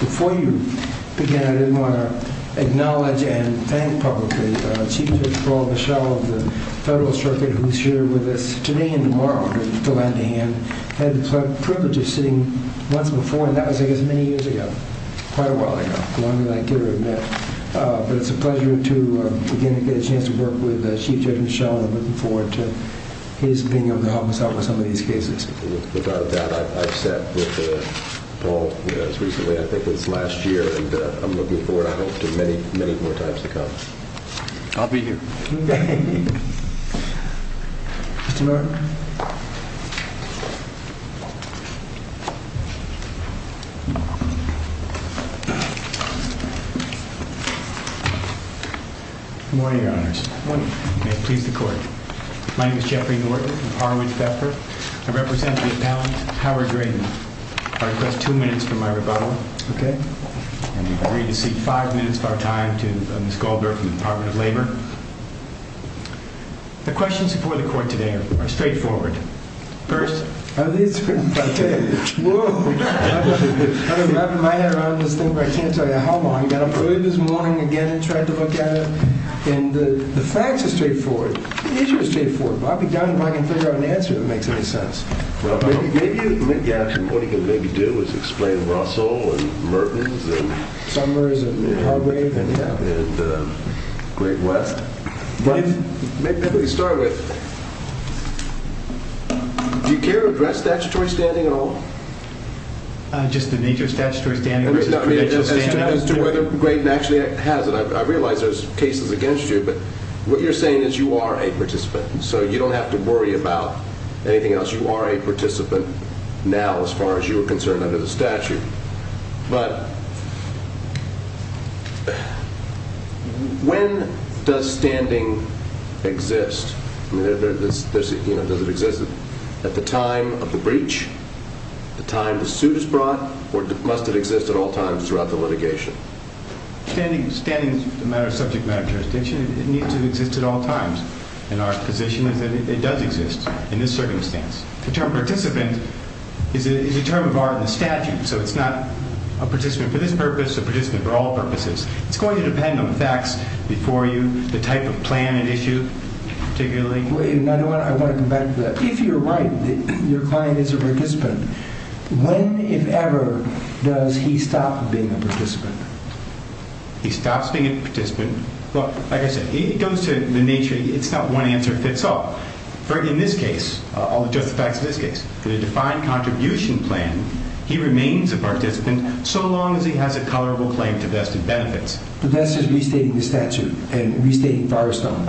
Before you begin, I just want to acknowledge and thank publicly the Chief of the Straw of the Show of the Federal Circuit who is here with us today and tomorrow. I had the privilege of sitting once before, and that was many years ago, quite a while ago, but it's a pleasure to get a chance to work with the Chief of the Show and I'm looking forward to his being able to help us out with some of these cases. With that, I've sat with Paul recently, I think it was last year, and I'm looking forward to many, many more times to come. I'll be here. Thank you. Good morning, Your Honor. Good morning. Please be seated. My name is Jeffrey Gordon. I represent the town of Howard Graden. I'm going to take two minutes for my rebuttal. Okay? I'm going to give you five minutes of our time to Ms. Goldberg from the Department of Labor. The questions before the court today are straightforward. First. Okay. Whoa. I don't know how long. I got up early this morning again and tried to look at it. And the facts are straightforward. The issue is straightforward. I'll be down if I can figure out an answer that makes any sense. Well, maybe I can. What you can maybe do is explain Russell and Merton and Summers and Great West. Let me start with it. Do you care to address statutory standing at all? Just the nature of statutory standing. Mr. Graden actually has it. I realize there's cases against you, but what you're saying is you are a participant. So you don't have to worry about anything else. You are a participant now as far as you are concerned under the statute. But when does standing exist? Does it exist at the time of the breach, the time the suit is brought, or must it exist at all times throughout the litigation? Standing is a matter of subject matter. It needs to exist at all times. And our position is that it does exist in this circumstance. The term participant is a term borrowed in the statute, so it's not a participant for this purpose, a participant for all purposes. It's going to depend on facts before you, the type of plan at issue, particularly. Wait, another one. I want to go back to that. Please, you're right. Your client is a participant. When, if ever, does he stop being a participant? He stops being a participant. Well, as it goes to the nature, it's not one answer fits all. In this case, I'll just fax this case. In a defined contribution plan, he remains a participant so long as he has a tolerable claim to vested benefit. But that's a restating the statute and restating the borrowed sum.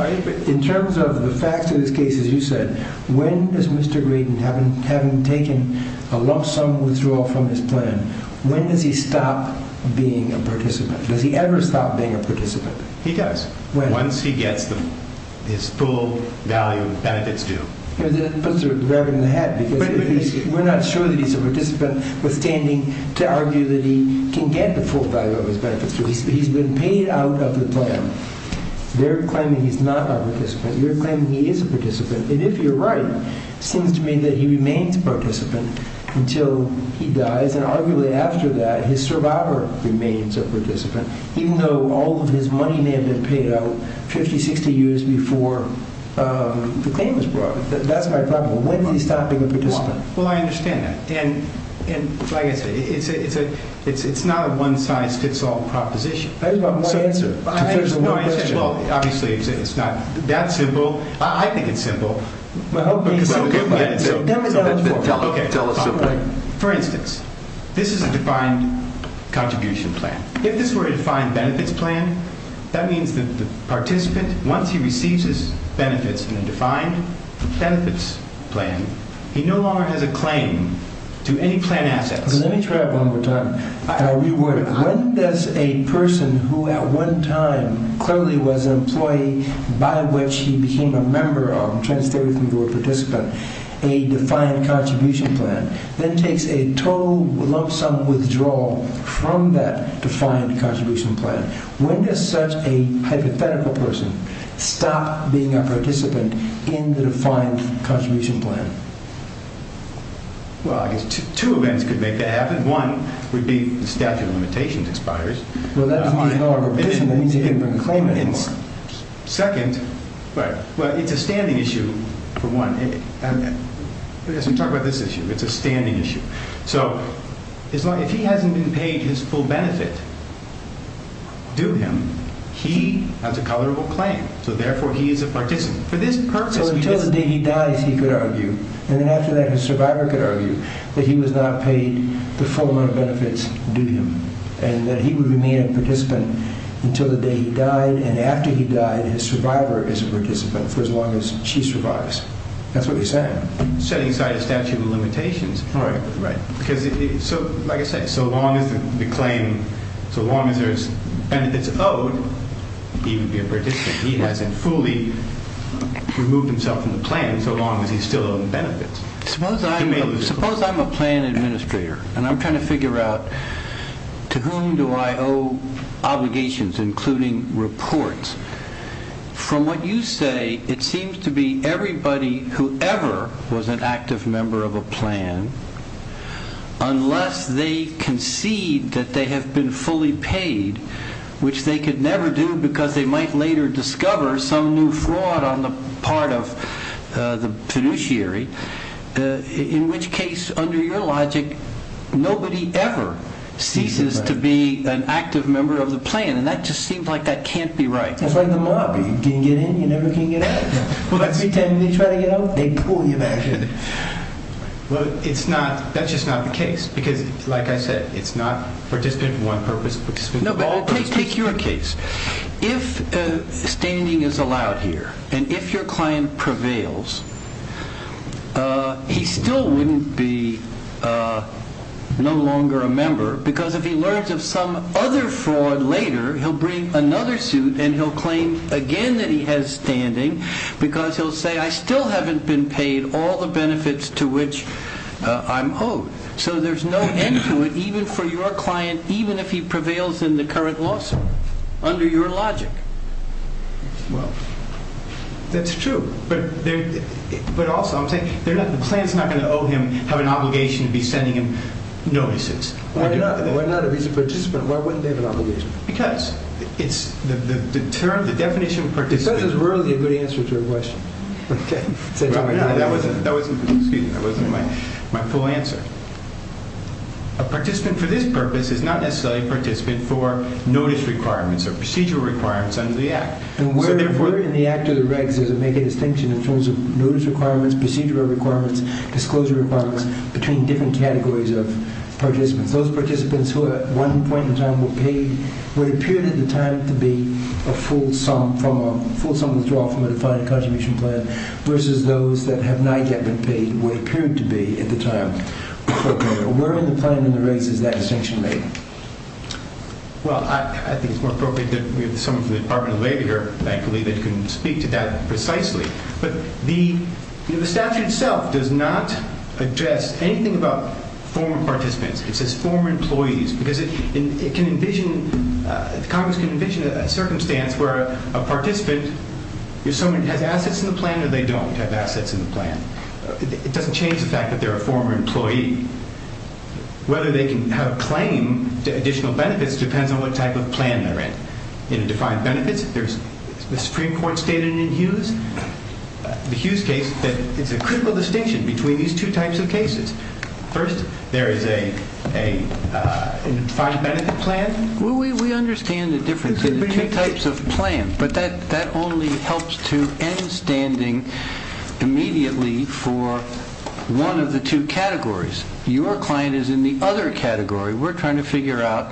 In terms of the facts of this case, as you said, when does Mr. Grady, having taken a lump sum withdrawal from his plan, when does he stop being a participant? Does he ever stop being a participant? He does. Once he gets his full value of his benefits due. That puts a rabbit in the hat, because we're not sure that he's a participant pertaining to argue that he can get the full value of his benefits due. But he's been paid out of the plan. You're claiming he's not a participant. You're claiming he is a participant. And if you're right, it seems to me that he remains a participant until he dies. And arguably after that, his survivor remains a participant, even though all of his money may have been paid out 50, 60 years before the claim was brought. That's my problem. When does he stop being a participant? Well, I understand that. And like I said, it's not a one-size-fits-all proposition. I just want one answer. There's one answer. Obviously, it's not that simple. I think it's simple. For instance, this is a defined contribution plan. If this were a defined benefits plan, that means that the participant, once he receives his benefits in a defined benefits plan, he no longer has a claim to any plan asset. Let me try that one more time. I'll reword it. When does a person who at one time clearly was an employee by which he became a member or transferred to become a participant, a defined contribution plan, then takes a total lump sum withdrawal from that defined contribution plan? When does such a hypothetical person stop being a participant in the defined contribution plan? Well, I guess two events could make that happen. One would be the statute of limitations expires. Well, that doesn't mean he's no longer a participant. That means he can't bring a claim anymore. Second, well, it's a standing issue, for one. As we talk about this issue, it's a standing issue. If he hasn't been paid his full benefit due him, he has a colorable claim, so therefore he is a participant. So until the day he dies, he could argue, and then after that his survivor could argue, that he was not paid the full amount of benefits due him, and that he would remain a participant until the day he died, and after he died his survivor is a participant for as long as she survives. That's what he said. Setting aside a statute of limitations. Right, right. Because, like I said, so long as we claim, so long as there's benefits owed, he would be a participant. He hasn't fully removed himself from the plan so long as he still owes the benefits. Suppose I'm a plan administrator, and I'm trying to figure out to whom do I owe obligations, including reports. From what you say, it seems to be everybody who ever was an active member of a plan, unless they concede that they have been fully paid, which they could never do because they might later discover some new fraud on the part of the fiduciary, in which case, under your logic, nobody ever ceases to be an active member of the plan. And that just seems like that can't be right. That's like the mob. You can get in, you never can get out. When I pretend to be trying to get out, they pull you back in. Well, it's not, that's just not the case. Because, like I said, it's not participant for one purpose. No, but I'll take your case. If standing is allowed here, and if your client prevails, he still wouldn't be no longer a member because if he learns of some other fraud later, he'll bring another suit and he'll claim again that he has standing because he'll say, I still haven't been paid all the benefits to which I'm owed. So there's no end to it, even for your client, even if he prevails in the current lawsuit. Under your logic. Well, that's true. But also, the client's not going to owe him an obligation to be sending him notices. Why not? If he's a participant, why wouldn't they have an obligation? Because it's the term, the definition of participant. Because it's really a good answer to your question. That wasn't my full answer. A participant for this purpose is not necessarily a participant for notice requirements or procedure requirements under the Act. And where in the Act or the regs does it make a distinction in terms of notice requirements, procedure requirements, disclosure requirements, between different categories of participants? Those participants who at one point in time were paid, what appeared at the time to be a full sum of the fraud from the contamination plan versus those that have not yet been paid, what appeared to be at the time. Where in the plan in the regs is that distinction made? Well, I think it's more appropriate for someone from the Department of Labor, and I believe they can speak to that precisely. But the statute itself does not address anything about former participants. It says former employees. Because Congress can envision a circumstance where a participant, does someone have assets in the plan or they don't have assets in the plan? It doesn't change the fact that they're a former employee. Whether they can have a claim to additional benefits depends on what type of plan they're in. In defined benefits, there's the Supreme Court stated in Hughes. The Hughes case, there's a critical distinction between these two types of cases. First, there is a defined benefit plan. Well, we understand the difference in the two types of plans, but that only helps to end standing immediately for one of the two categories. Your client is in the other category. We're trying to figure out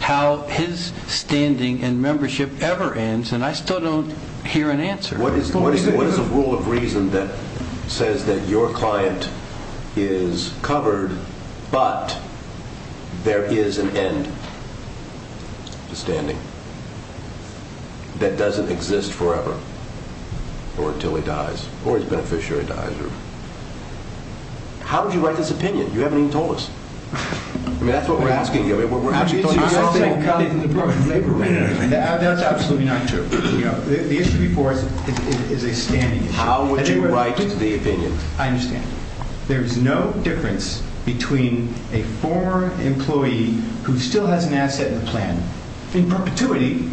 how his standing and membership ever ends, and I still don't hear an answer. What is the rule of reason that says that your client is covered, but there is an end to standing that doesn't exist forever, or until he dies, or his beneficiary dies? How would you write this opinion? You haven't even told us. I mean, that's what we're asking you. The issue before us is expanding. How would you write the opinion? I understand. There's no difference between a former employee who still has an asset in the plan in perpetuity,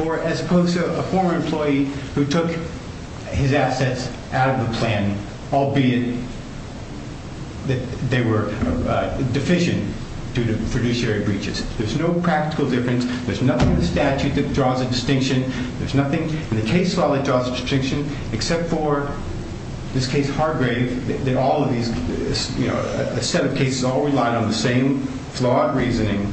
or as opposed to a former employee who took his assets out of the plan, albeit that they were deficient due to fiduciary breaches. There's no practical difference. There's nothing in the statute that draws a distinction. There's nothing in the case that draws a distinction, except for this case Hargrave. All of these cases all rely on the same flawed reasoning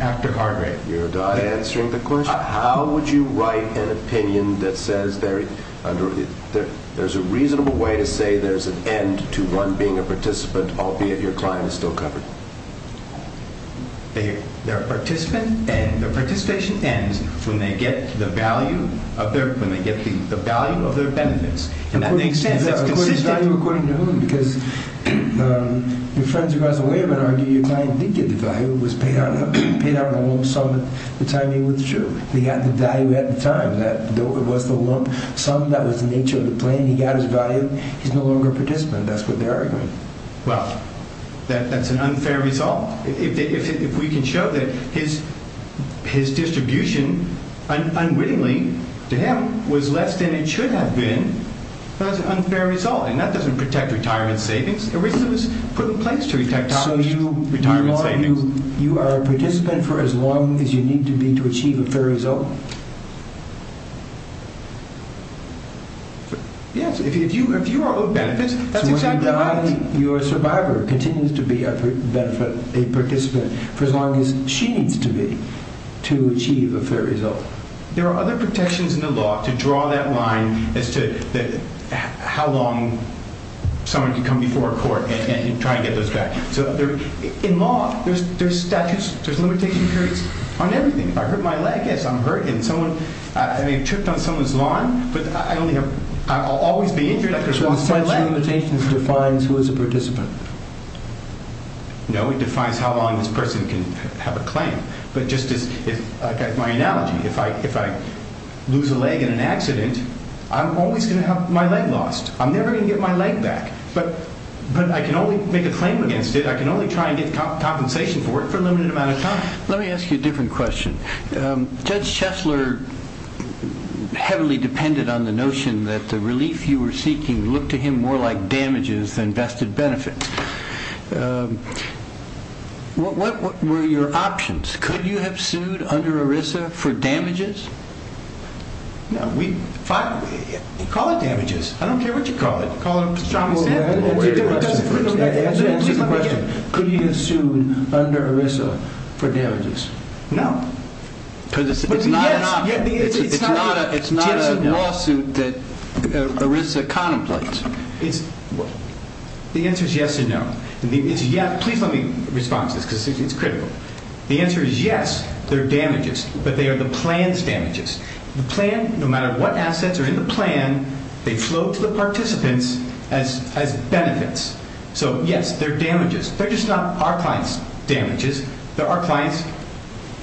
after Hargrave. You're not answering the question. How would you write an opinion that says there's a reasonable way to say there's an end to being a participant, albeit your client is still covered? Their participation ends when they get the value of their benefits. And that makes sense. That was his value according to whom? Because your friends are going to say, wait a minute. Your client, he did the value. It was paid out of a loan sum at the time he was true. He got the value at the time. That loan sum, that was the nature of the plan. He got his value. He's no longer a participant. That's what they're arguing. Well, that's an unfair result. If we can show that his distribution unwittingly to him was less than it should have been, that's an unfair result. And that doesn't protect retirement savings. Originally, it was for the place to retire. So you are a participant for as long as you need to be to achieve a fair result? Yes. Your survivor continues to be a participant for as long as she needs to be to achieve a fair result. There are other protections in the law to draw that line as to how long someone can come before court and try to get those statutes. In law, there's statutes. There's limitation periods on everything. If I hurt my leg, yes, I'm hurt. I may have tripped on someone's lawn, but I'll always be injured. So compensation defines who is a participant? No, it defines how long this person can have a claim. But just as my analogy, if I lose a leg in an accident, I'm always going to have my leg lost. I'm never going to get my leg back. But I can only make a claim against it. I can only try and get compensation to work for a limited amount of time. Let me ask you a different question. Judge Shessler heavily depended on the notion that the relief he was seeking looked to him more like damages than vested benefits. What were your options? Could you have sued under ERISA for damages? No, we fought with him. Call it damages. I don't care what you call it. Call it damages. Could he have sued under ERISA for damages? No. It's not a lawsuit that ERISA contemplates. The answer is yes or no. Please let me respond to this because it's critical. The answer is yes, they're damages, but they are the plan's damages. The plan, no matter what assets are in the plan, they flow to the participants as benefits. So, yes, they're damages. They're just not our client's damages. They're our client's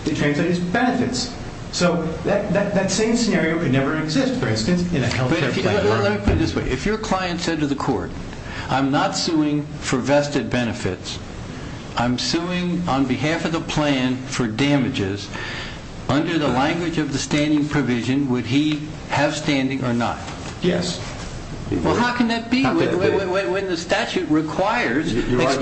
benefits. So that same scenario would never exist, for instance, in a health care system. Let me put it this way. If your client said to the court, I'm not suing for vested benefits, I'm suing on behalf of the plan for damages, under the language of the standing provision, would he have standing or not? Yes. Well, how can that be? When the statute requires it, it must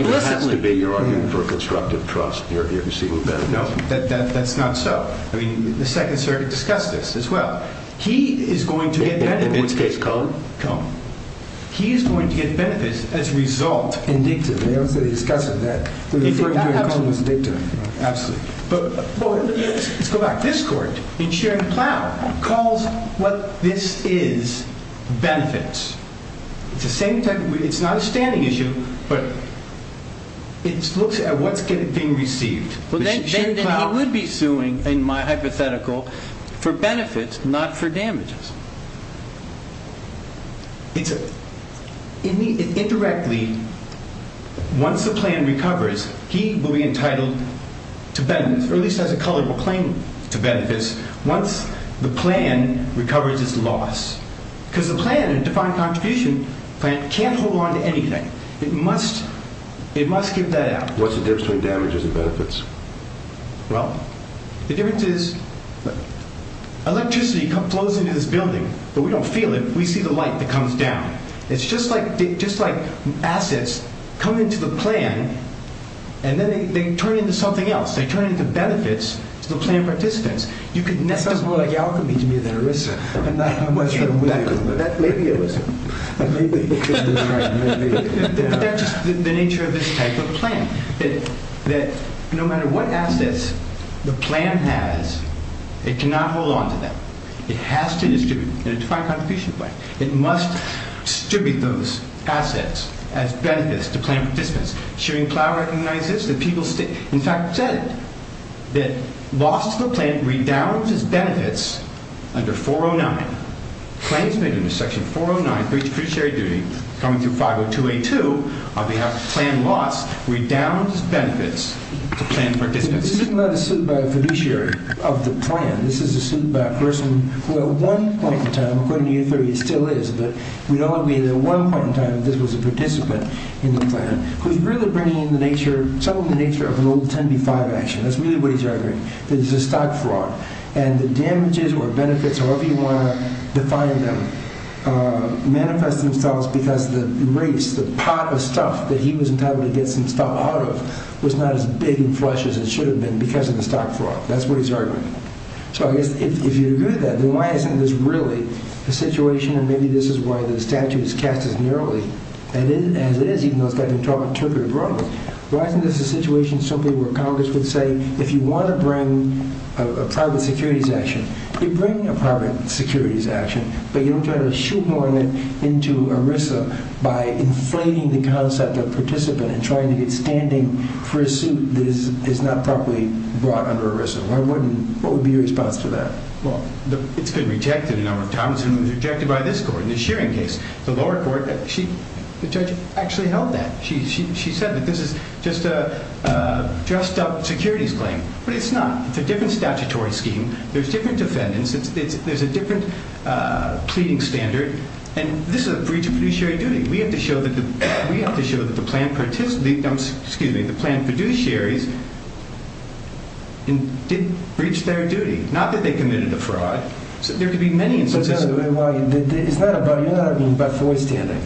be. You're arguing for constructive trust. That's not so. I mean, the Second Circuit discussed this as well. He is going to get benefits. The United States, Colin. Colin. He is going to get benefits as a result. They discussed it. Absolutely. But let's go back to this court. And Sharon Plow calls what this is benefits. It's not a standing issue, but it looks at what's going to be received. Then he would be suing, in my hypothetical, for benefits, not for damages. Indirectly, once the plan recovers, he will be entitled to benefits, or at least has a culpable claim to benefits, once the plan recovers its loss. Because the plan, the defined contribution plan, can't hold on to anything. It must give that out. What's the difference between damages and benefits? Well, the difference is electricity flows into this building, but we don't feel it. We see the light that comes down. It's just like assets come into the plan, and then they turn into something else. They turn into benefits, the plan for assistance. That sounds a little like the alchemy you use at Arista. I'm not sure how much you're aware of. That's radio-ism. That's the nature of this type of plan, that no matter what assets the plan has, it cannot hold on to them. It has to distribute, and it's a defined contribution plan. It must distribute those assets as benefits to plan participants. Sharon Plow recognizes that people stick. In fact, said it, that loss of a plan redounds as benefits under 409. Claims made under section 409, increased fiduciary duty, coming through 502A2, on behalf of the plan lost, redounds as benefits to plan participants. This isn't about the fiduciary of the plan. This is a person who at one point in time, according to you, it still is, but we don't want to be at one point in time that this was a participant in the plan, who's really bringing some of the nature of an old 10B5 action. That's really what he's arguing. This is a stock fraud, and the damages or benefits or whatever you want to define them manifest themselves because the waste, the pot of stuff that he was entitled to get some stuff out of was not as big and fresh as it should have been because of the stock fraud. That's what he's arguing. If you agree with that, then why isn't this really a situation, and maybe this is why the statute is cast as narrowly, and as it is, he's most likely to interpret it wrongly. Why isn't this a situation simply where Congress could say, if you want to bring a private securities action, you bring a private securities action, but you don't try to shoehorn it into ERISA by inflating the concept of participant and trying to get standing for a suit that is not properly brought under ERISA. What would be your response to that? It's been rejected a number of times, and it's been rejected by this court in this hearing case. The lower court, the judge actually held that. She said this is just a dressed-up securities claim, but it's not. It's a different statutory scheme. There's different defendants. There's a different pleading standard, and this is a breach of fiduciary duty. We have to show that the plaintiff participates, excuse me, the plaintiff fiduciaries did breach their duty, not that they committed the fraud. There could be many instances. It's not a binary argument about boy standing.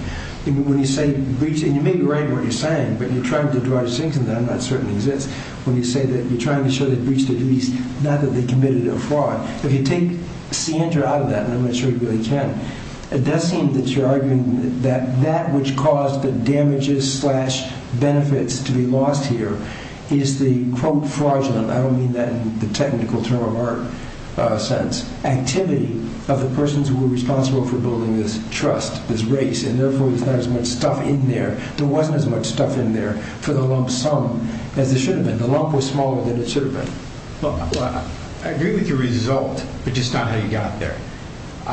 When you say breach, and you may be right in what you're saying, but you're trying to derive something from that, and that certainly exists, when you say that you're trying to show they've breached their duty, not that they've committed a fraud. If you take the standard out of that, and I'm not sure you really can, it does seem that you're arguing that that which caused the damages slash benefits to be lost here is the, quote, fraudulent, I don't mean that in the technical term of art sense, activity of the persons who were responsible for building this trust, this race, and therefore there wasn't as much stuff in there for the lump sum as there should have been. The lump was smaller than it should have been. Well, I agree with your result, but just not how you got there.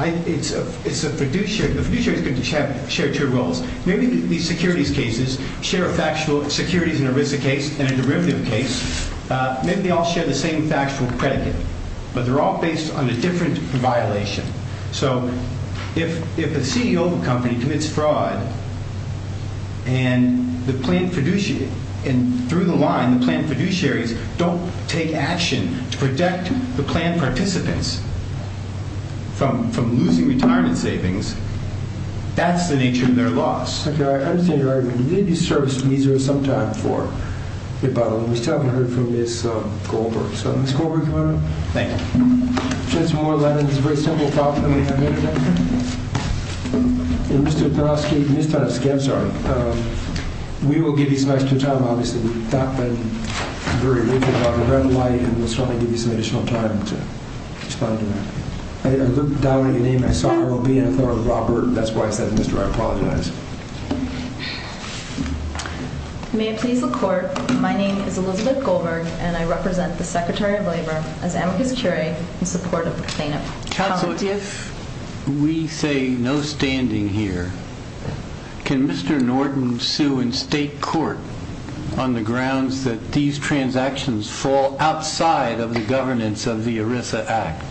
It's a fiduciary thing to check shared-share rules. Maybe these securities cases share a factual securities and a risk case and a derivative case. Maybe they all share the same factual predicate, but they're all based on a different violation. So if the CEO of a company commits fraud, and through the line, the planned fiduciaries don't take action to protect the planned participants from losing retirement savings, that's the nature of their loss. Thank you, Your Honor. I just think you're right. We need these services to be here some time for, if I'm not mistaken, a few days from Goldberg. Mr. Goldberg, come on up. Thank you. Judge Moore, that is a very simple problem. And Mr. Gnowski, Mr. Gnowski, I'm sorry. We will give you some extra time, obviously. We've got a very limited amount of red light, and we just want to give you some additional time to respond to that. I looked down at your name, and I saw it will be in the form of Robert, and that's why I said Mr. Gnowski. I apologize. May it please the Court, my name is Elizabeth Goldberg, and I represent the Secretary of Labor of Amicus Curia in support of the statement. Counsel, if we say no standing here, can Mr. Norton sue in state court on the grounds that these transactions fall outside of the governance of the ERISA Act?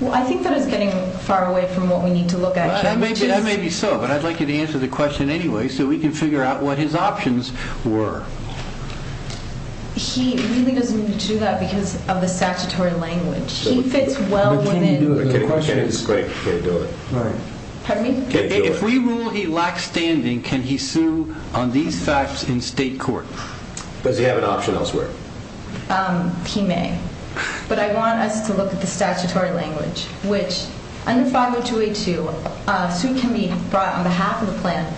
Well, I think that is getting far away from what we need to look at. That may be so, but I'd like you to answer the question anyway so we can figure out what his options were. He really doesn't need to do that because of the statutory language. He fits well within the framework. If we rule he lacks standing, can he sue on these facts in state court? Does he have an option elsewhere? He may, but I want us to look at the statutory language, which under 50282, a suit can be brought on behalf of the plan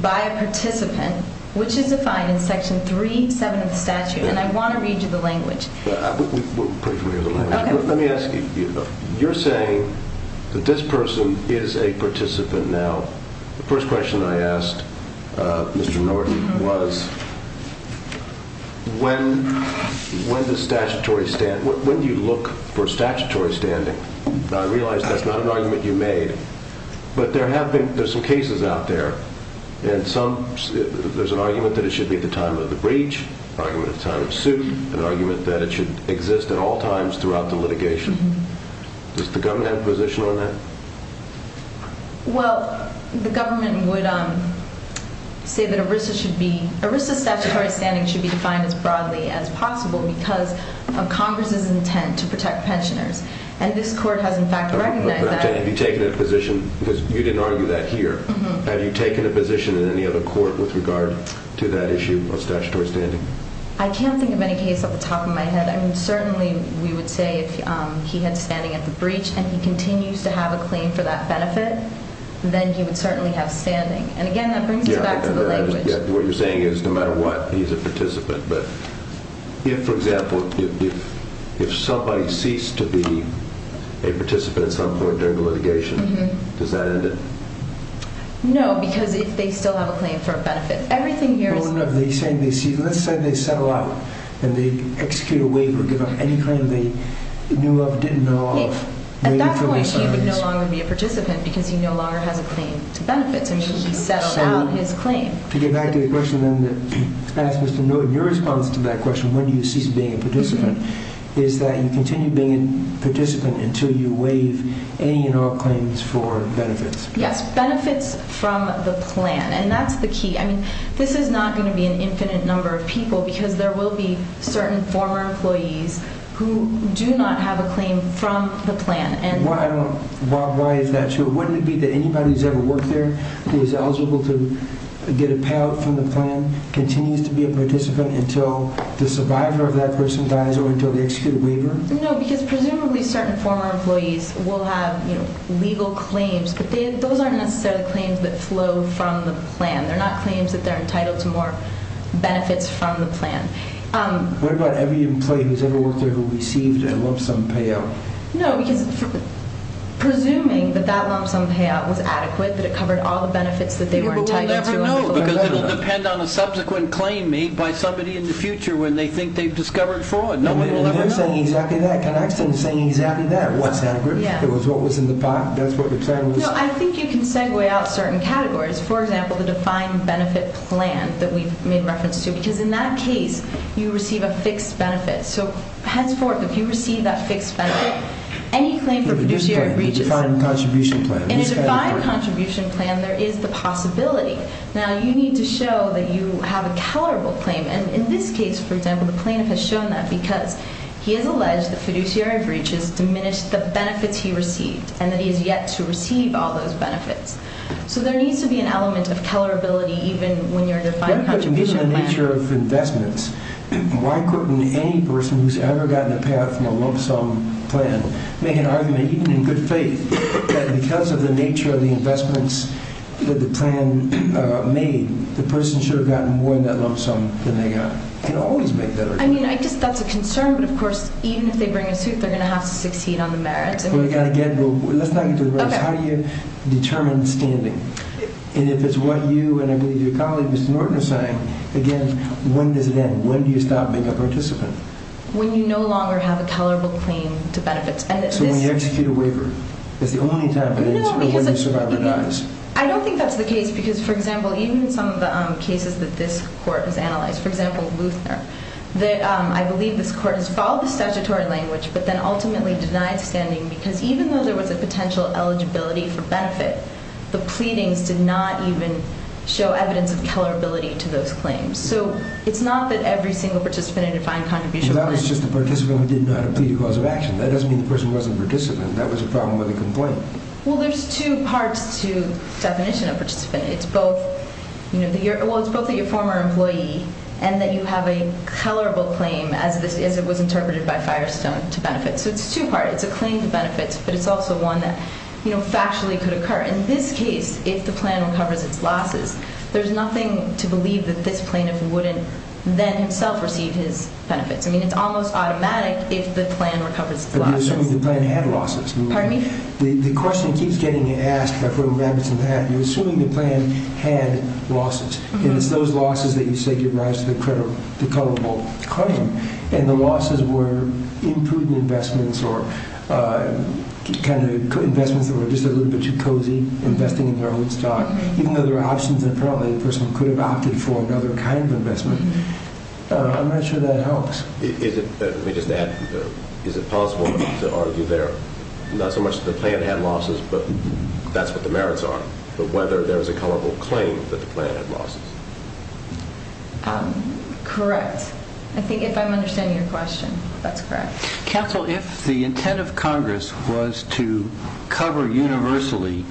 by a participant, which is defined in Section 37 of the statute, and I want to read you the language. Let me ask you a few things. You're saying that this person is a participant now. The first question I asked Mr. Norton was when do you look for statutory standing? I realize that's not an argument you made, but there are some cases out there, and there's an argument that it should be at the time of the breach, an argument at the time of the suit, and an argument that it should exist at all times throughout the litigation. Does the government have a position on that? Well, the government would say that ERISA's statutory standing should be signed as broadly as possible because Congress has an intent to protect pensioners, and this court has, in fact, recognized that. Have you taken a position, because you didn't argue that here, have you taken a position in any other court with regard to that issue of statutory standing? I can't think of any case off the top of my head. I mean, certainly we would say if he had standing at the breach and he continues to have a claim for that benefit, then he would certainly have standing. And, again, that brings us back to the breach. What you're saying is no matter what, he's a participant. But if, for example, if somebody ceased to be a participant in some sort during the litigation, does that end it? No, because they still have a claim for a benefit. No, no, no. Let's say they settle out and they execute a waiver, give up any claim they knew of, didn't know of. At that point, he can no longer be a participant because he no longer has a claim for benefits. I mean, he can settle out his claim. To get back to the question then that asked Mr. Newton, your response to that question, when do you cease being a participant, is that you continue being a participant until you waive any and all claims for benefits. Yes, benefits from the plan, and that's the key. I mean, this is not going to be an infinite number of people because there will be certain former employees who do not have a claim from the plan. Well, I don't know why it's not true. Wouldn't it be that anybody who's ever worked there, who is eligible to get a payout from the plan, continues to be a participant until the survivor of that person dies or until they execute a waiver? No, because presumably certain former employees will have legal claims, but those aren't necessarily claims that flow from the plan. They're not claims that they're entitled to more benefits from the plan. What about every employee who's ever worked there who receives and wants some payout? No, because it's true. Presuming that that wants some payout was adequate, that it covered all the benefits that they were entitled to. Well, we'll never know because it'll depend on the subsequent claim made by somebody in the future when they think they've discovered fraud. Nobody will ever know. Well, you're saying exactly that because I've been saying exactly that. What's happened is what was in the pot. That's what the plan was about. No, I think you can segue out certain categories. For example, the defined benefit plan that we made reference to, because in that case, you receive a fixed benefit. So henceforth, if you receive that fixed benefit, any claim for fiduciary breaches. The defined contribution plan. In a defined contribution plan, there is the possibility. Now, you need to show that you have a tolerable claim, and in this case, for example, the claim has shown that because he has alleged that fiduciary breaches diminished the benefits he received and that he has yet to receive all those benefits. So there needs to be an element of tolerability even when you're in a defined contribution plan. That's because of the nature of investments. Why couldn't any person who's ever gotten a payout from a lump sum plan make an argument, even in good faith, that because of the nature of the investments that the plan made, the person should have gotten more in that lump sum than they got? You can always make that argument. I mean, I guess that's a concern, but of course, even if they bring a suit, they're going to have to succeed on the merits. Let's not get into the merits. How do you determine standing? And if it's what you and I believe your colleague, Mr. Norton, are saying, again, when does it end? When do you stop being a participant? When you no longer have a tolerable claim to benefits. So when you execute a waiver. That's the only time it ends, and when the survivor dies. I don't think that's the case because, for example, even in some of the cases that this court has analyzed, for example, Luther, I believe this court installed statutory language but then ultimately denied standing because even though there was a potential eligibility for benefits, the pleadings did not even show evidence of tolerability to those claims. So it's not that every single participant had a fine contribution. That was just the participant who didn't know how to plead the cause of action. That doesn't mean the person wasn't a participant. That was the problem with the complaint. Well, there's two parts to the definition of participant. It's both that you're a former employee and that you have a tolerable claim, as it was interpreted by Firestone, to benefits. So it's two parts. It's a claim to benefits, but it's also one that factually could occur. In this case, if the plan recovers its losses, there's nothing to believe that this plaintiff wouldn't then self-receive his benefits. I mean, it's almost automatic if the plan recovers its losses. But you're assuming the plan had losses. Pardon me? The question keeps getting asked. I've heard a reference to that. You're assuming the plan had losses. And it's those losses that you say give rise to the colorable claim. And the losses were including investments or just kind of investments that were just a little bit too cozy, investing in the wrong stock, even though there are options, and apparently the person could have opted for another kind of investment. I'm not sure that helps. Is it possible that there ought to be there, not so much that the plan had losses, but that's what the merits are, but whether there's a colorable claim that the plan had losses. Correct. I think I understand your question. That's correct. Counsel, if the intent of Congress was to cover universally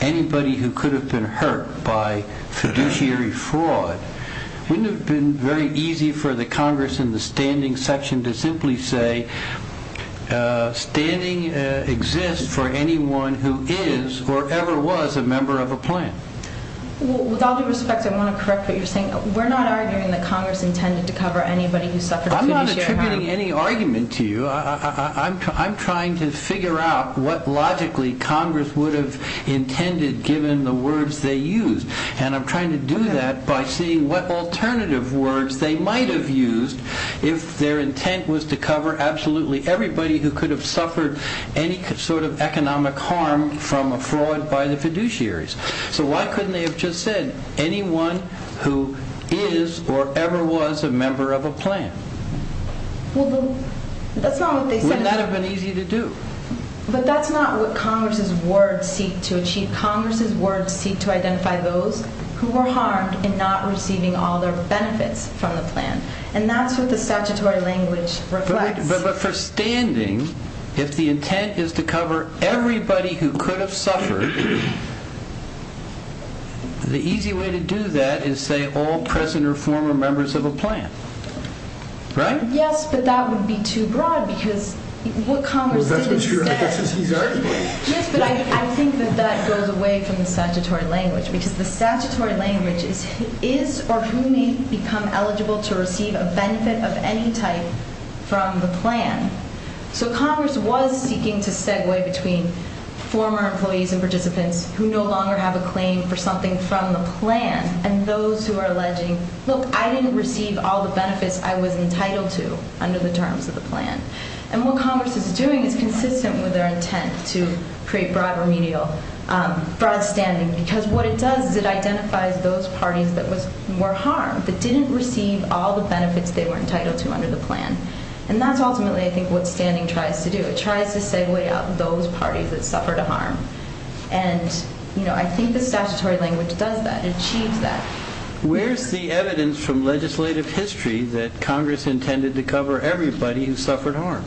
anybody who could have been hurt by fiduciary fraud, wouldn't it have been very easy for the Congress in the standing section to simply say, standing exists for anyone who is or ever was a member of a plan? With all due respect, I want to correct what you're saying. We're not arguing that Congress intended to cover anybody who suffered from fiduciary fraud. I'm not attributing any argument to you. I'm trying to figure out what logically Congress would have intended, given the words they used. And I'm trying to do that by seeing what alternative words they might have used if their intent was to cover absolutely everybody who could have suffered any sort of economic harm from a fraud by the fiduciaries. So why couldn't they have just said anyone who is or ever was a member of a plan? Wouldn't that have been easy to do? But that's not what Congress's words seek to achieve. Congress's words seek to identify those who were harmed and not receiving all their benefits from the plan. And that's what the statutory language requires. But for standing, if the intent is to cover everybody who could have suffered, the easy way to do that is say all present or former members of a plan. Right? Yes, but that would be too broad because what Congress would do with that? Well, that's what you're arguing. Yes, but I think that that goes away from the statutory language because the statutory language is or who may become eligible to receive a benefit of any type from the plan. So Congress was seeking to segue between former employees and participants who no longer have a claim for something from the plan and those who are alleging, look, I didn't receive all the benefits I was entitled to under the terms of the plan. And what Congress is doing is consistent with their intent to create broad remedial broad standing because what it does is it identifies those parties that were harmed but didn't receive all the benefits they were entitled to under the plan. And that's ultimately, I think, what standing tries to do. It tries to segue out those parties that suffered harm. And, you know, I think the statutory language does that, achieves that. Where's the evidence from legislative history that Congress intended to cover everybody who suffered harm?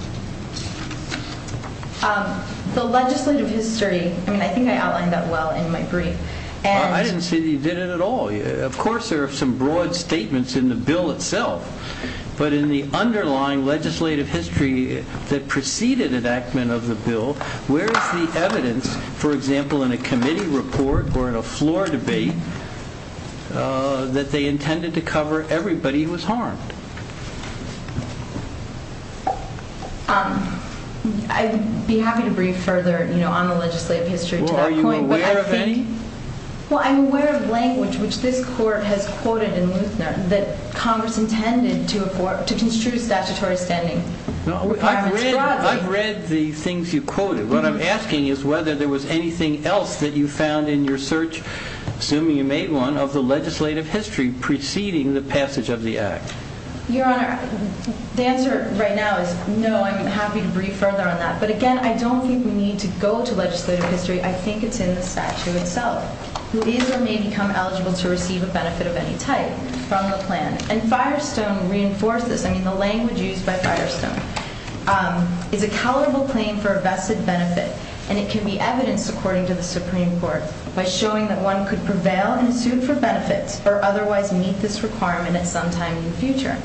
The legislative history, I mean, I think I outlined that well in my brief. I didn't see that you did it at all. Of course, there are some broad statements in the bill itself. But in the underlying legislative history that preceded enactment of the bill, where is the evidence, for example, in a committee report or in a floor debate that they intended to cover everybody who was harmed? I'd be happy to read further, you know, on the legislative history. Well, are you aware of any? Well, I'm aware of language which this Court has quoted in Lucerne that Congress intended to construe statutory standing. No, I read the things you quoted. What I'm asking is whether there was anything else that you found in your search, assuming you made one, of the legislative history preceding the passage of the Act. Your Honor, the answer right now is no. I'm happy to read further on that. But again, I don't think we need to go to legislative history. I think it's in the statute itself. The leader may become eligible to receive a benefit of any type from the plan. And Firestone reinforces, I mean, the language used by Firestone, is a countable claim for a vested benefit. And it can be evidenced, according to the Supreme Court, by showing that one could prevail in suit for benefits or otherwise meet this requirement at some time in the future.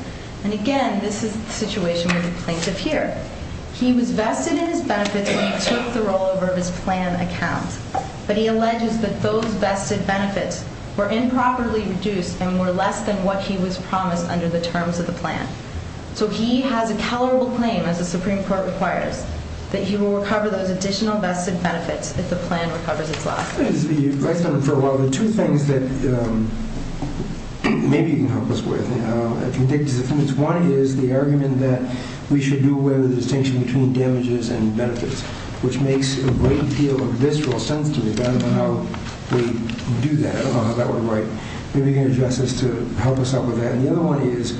And again, this is the situation of the plaintiff here. He was vested in his benefits and he took the roll over of his plan account. But he alleges that those vested benefits were improperly reduced and were less than what he was promised under the terms of the plan. So he has a countable claim, as the Supreme Court requires, that he will recover those additional vested benefits if the plan recovers his loss. Let me just be right there for a while. There are two things that maybe you can help us with. One is the argument that we should do away with the distinction between damages and benefits, which makes a great deal of visceral sense to me, depending on how we do that, along that way, if you can adjust this to help us out with that. And the other one is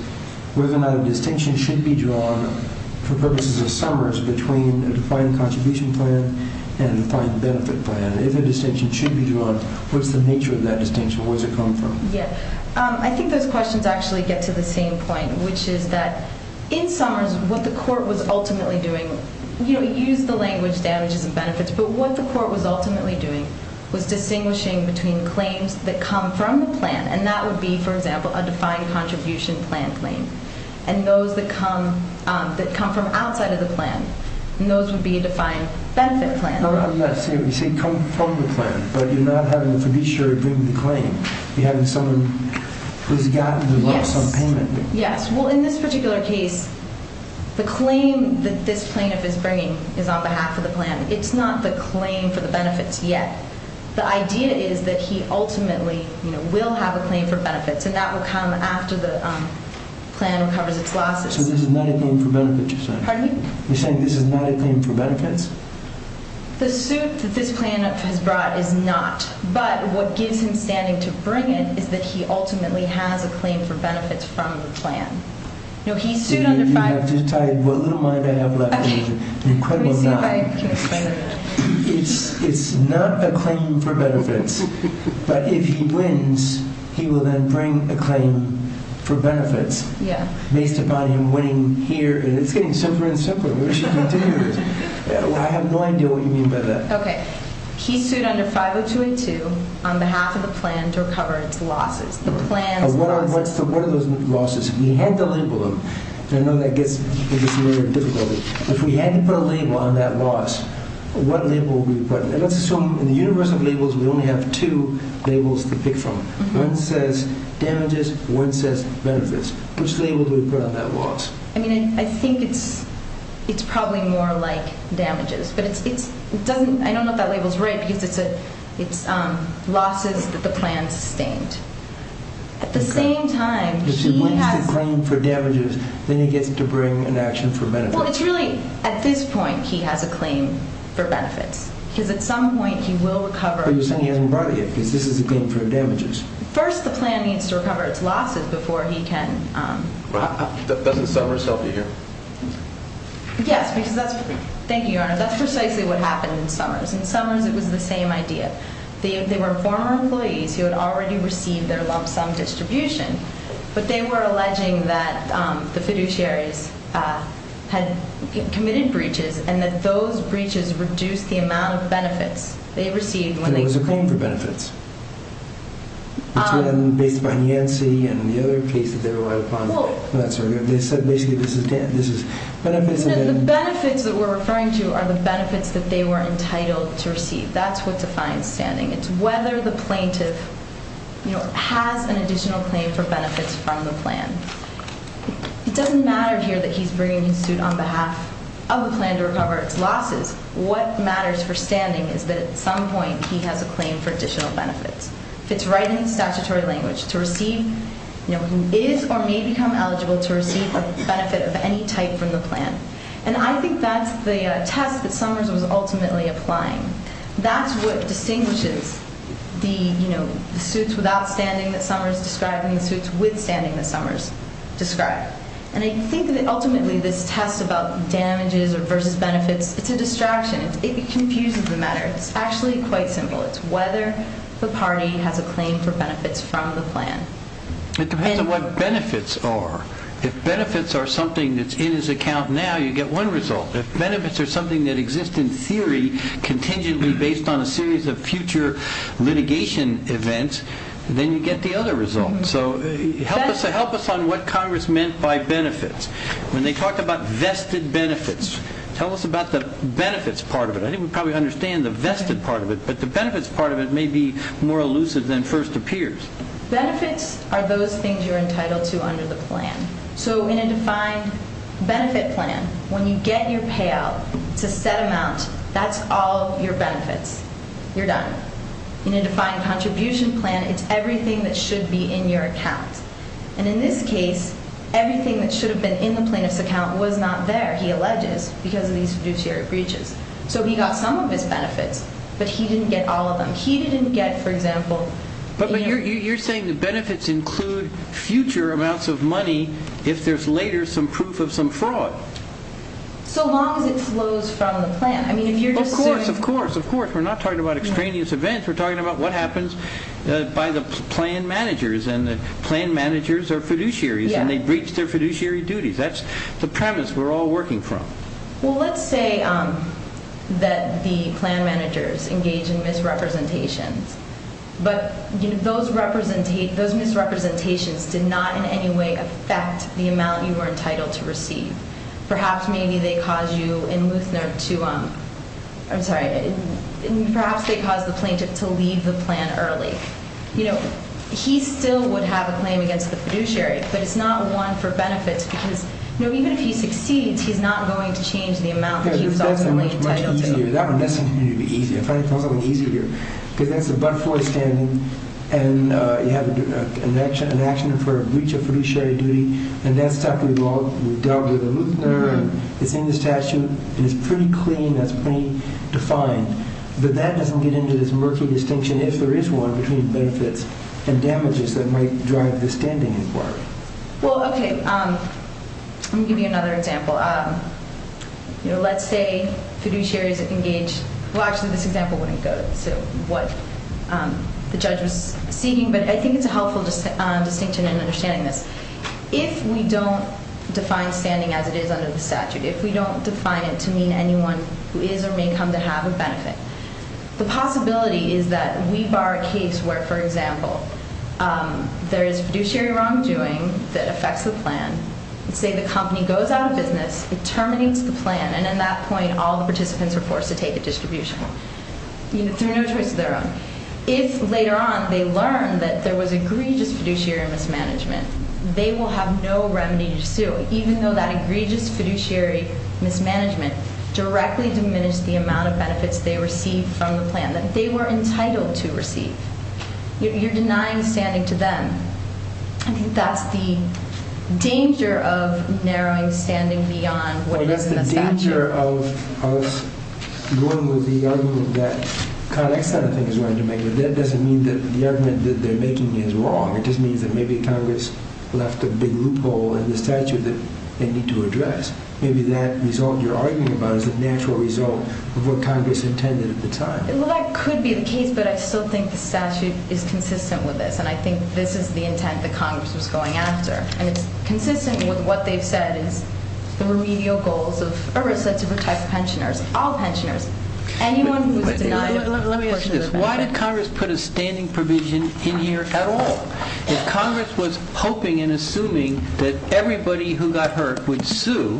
whether or not a distinction should be drawn, for purposes of summers, between a defined contribution plan and a defined benefit plan. If a distinction should be drawn, what's the nature of that distinction? Where does it come from? Yes. I think those questions actually get to the same point, which is that in summers, what the court was ultimately doing, use the language damages and benefits, but what the court was ultimately doing was distinguishing between claims that come from the plan, and that would be, for example, a defined contribution plan claim, and those that come from outside of the plan. And those would be a defined benefit plan. I'm not saying they should come from the plan, but you're not having a fiduciary bring the claim. You're having someone who's gotten the loss on payment. Yes. Well, in this particular case, the claim that this plaintiff is bringing is on behalf of the plan. It's not the claim for the benefits yet. The idea is that he ultimately will have a claim for benefits, and that will come after the plan recovers its losses. So this is not a claim for benefits you're saying? Pardon me? You're saying this is not a claim for benefits? The suit that this plaintiff has brought is not, but what gives him standing to bring it is that he ultimately has a claim for benefits from the plan. You have to decide what little money they have left. It's not a claim for benefits, but if he wins, he will then bring a claim for benefits. Yes. It's getting simpler and simpler. I have no idea what you mean by that. Okay. He sued under 502A2 on behalf of the plan to recover its losses. What are those losses? We had to label them. I know that gets a little difficult. If we hadn't put a label on that loss, what label would we have put? In the universe of labels, we only have two labels to pick from. One says damages, one says benefits. Which label do we put on that loss? I think it's probably more like damages. I don't know if that label is right because it's losses that the plan sustained. At the same time, he has— It's a claim for damages, then he gets to bring an action for benefits. Well, it's really at this point he has a claim for benefits because at some point he will recover— But you're saying he hasn't brought it yet because this is a claim for damages. First, the plan needs to recover its losses before he can— Doesn't Summers help you here? Thank you, Your Honor. That's precisely what happened in Summers. In Summers, it was the same idea. They were former employees who had already received their lump sum distribution, but they were alleging that the fiduciary had committed breaches and that those breaches reduced the amount of benefits they received when they— But it was a claim for benefits. The plan based on Yancey and the other cases they relied upon— Well— I'm sorry. Basically, this is— The benefits that we're referring to are the benefits that they were entitled to receive. That's what defines standing. It's whether the plaintiff has an additional claim for benefits from the plan. It doesn't matter here that he's bringing his suit on behalf of the plan to recover its losses. What matters for standing is that at some point he has a claim for additional benefits. It's right in statutory language to receive— He is or may become eligible to receive a benefit of any type from the plan. I think that's the test that Summers was ultimately applying. That's what distinguishes the suits without standing that Summers described and the suits with standing that Summers described. I think that ultimately this test about damages versus benefits is a distraction. It confuses the matter. It's actually quite simple. It's whether the party has a claim for benefits from the plan. It depends on what benefits are. If benefits are something that's in his account now, you get one result. If benefits are something that exists in theory contingently based on a series of future litigation events, then you get the other result. Help us on what Congress meant by benefits. When they talked about vested benefits, tell us about the benefits part of it. I think we probably understand the vested part of it, but the benefits part of it may be more elusive than first appears. Benefits are those things you're entitled to under the plan. In a defined benefit plan, when you get your payout to set amount, that's all your benefits. You're done. In a defined contribution plan, it's everything that should be in your account. In this case, everything that should have been in the plaintiff's account was not there, he alleges, because of these judiciary breaches. He got some of his benefits, but he didn't get all of them. He didn't get, for example, But you're saying the benefits include future amounts of money if there's later some proof of some fraud. So long as it flows from the plan. Of course, of course, of course. We're not talking about extraneous events. We're talking about what happens by the plan managers, and the plan managers are fiduciaries, and they breach their fiduciary duties. That's the premise we're all working from. Well, let's say that the plan managers engage in misrepresentation, but those misrepresentations did not in any way affect the amount you were entitled to receive. Perhaps maybe they caused the plaintiff to leave the plan early. He still would have a plan against the fiduciary, but it's not the one for benefits. Even if he succeeds, he's not going to change the amount that he was ultimately entitled to. That one is easier. He has the butt fully standing, and he has an action for a breach of fiduciary duty, and that's something we've all dealt with. It's in the statute, and it's pretty clean. That's plain to find. But that doesn't get into this murky distinction if there is one between benefits and damages that might drive the standing as well. Well, okay. Let me give you another example. Let's say fiduciary is engaged. Well, actually, this example wouldn't go to what the judge is thinking, but I think it's a helpful distinction in understanding this. If we don't define standing as it is under the statute, if we don't define it to mean anyone who is or may come to have a benefit, the possibility is that we bar a case where, for example, there is fiduciary wrongdoing that affects the plan. Let's say the company goes out of business, it terminates the plan, and at that point all the participants are forced to take a distribution. You know, it's their own. If later on they learn that there was egregious fiduciary mismanagement, they will have no remedy to sue, even though that egregious fiduciary mismanagement directly diminished the amount of benefits they received from the plan that they were entitled to receive. You're denying standing to them. I think that's the danger of narrowing standing beyond what is in the statute. You have the danger of what would be the argument that Connick kind of thing is going to make, but that doesn't mean that the argument that they're making is wrong. It just means that maybe Congress left a big loophole in the statute that they need to address. Maybe that result you're arguing about is a natural result of what Congress intended at the time. Well, that could be the case, but I still think the statute is consistent with it, and I think this is the intent that Congress is going after. It's consistent with what they said is the remedial goals of EARSA to protect pensioners, all pensioners, anyone who was denied a portion of this. Let me ask you this. Why did Congress put a standing provision in here at all? If Congress was hoping and assuming that everybody who got hurt would sue,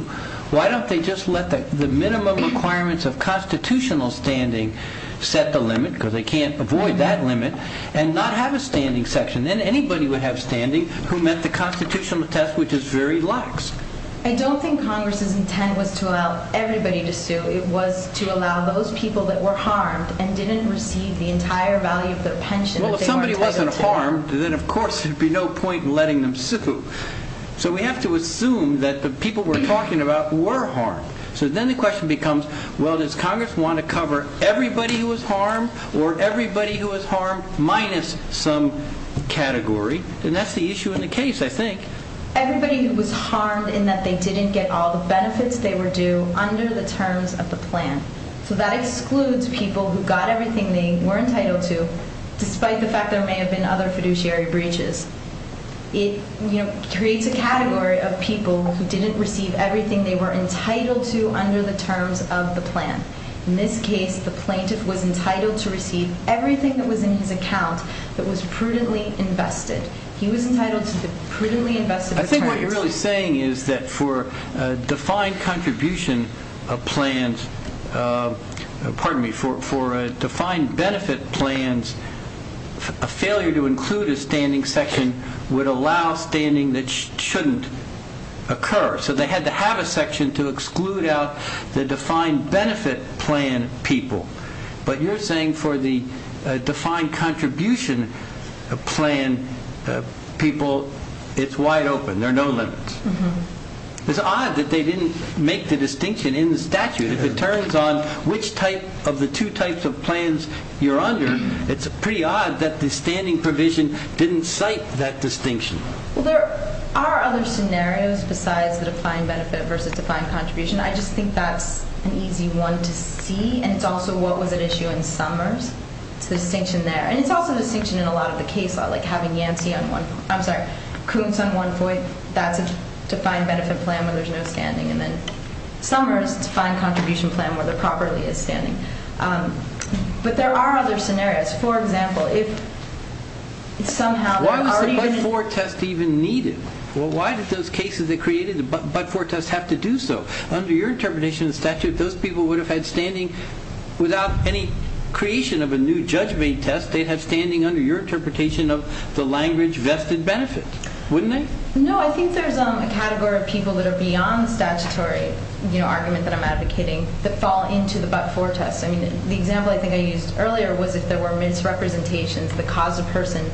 why don't they just let the minimum requirements of constitutional standing set the limit, because they can't avoid that limit, and not have a standing section? Then anybody would have standing who missed a constitutional test, which is very large. I don't think Congress's intent was to allow everybody to sue. It was to allow those people that were harmed and didn't receive the entire value of the pension that they were entitled to. Well, if somebody wasn't harmed, then, of course, there would be no point in letting them sue. So we have to assume that the people we're talking about were harmed. So then the question becomes, well, does Congress want to cover everybody who was harmed or everybody who was harmed minus some category? And that's the issue in the case, I think. Everybody who was harmed in that they didn't get all the benefits they were due under the terms of the plan. So that excludes people who got everything they were entitled to, despite the fact there may have been other fiduciary breaches. It creates a category of people who didn't receive everything they were entitled to under the terms of the plan. In this case, the plaintiff was entitled to receive everything that was in his account but was prudently invested. He was entitled to a prudently invested plan. I think what you're really saying is that for a defined contribution of plans, pardon me, for defined benefit plans, a failure to include a standing section would allow standing that shouldn't occur. So they had to have a section to exclude out the defined benefit plan people. But you're saying for the defined contribution plan people, it's wide open. There are no limits. It's odd that they didn't make the distinction in the statute. If it turns on which type of the two types of plans you're under, it's pretty odd that the standing provision didn't cite that distinction. Well, there are other scenarios besides the defined benefit versus defined contribution. I just think that's an easy one to see, and it's also what was at issue in Summers, the distinction there. And it's also the distinction in a lot of the CAFO, like having Yancey on one point, I'm sorry, Coombs on one point. That's a defined benefit plan where there's no standing. And then Summers' defined contribution plan where there properly is standing. But there are other scenarios. For example, if somehow they're already in it. Why are the Bud Ford tests even needed? Well, why did those cases they created, the Bud Ford tests, have to do so? Under your interpretation of the statute, those people would have had standing without any creation of a new judgment test. They'd have standing under your interpretation of the language vested benefit, wouldn't they? No, I think there's a category of people that are beyond statutory, the argument that I'm advocating, that fall into the Bud Ford test. I mean, the example I think I used earlier was if there were misrepresentations that caused a person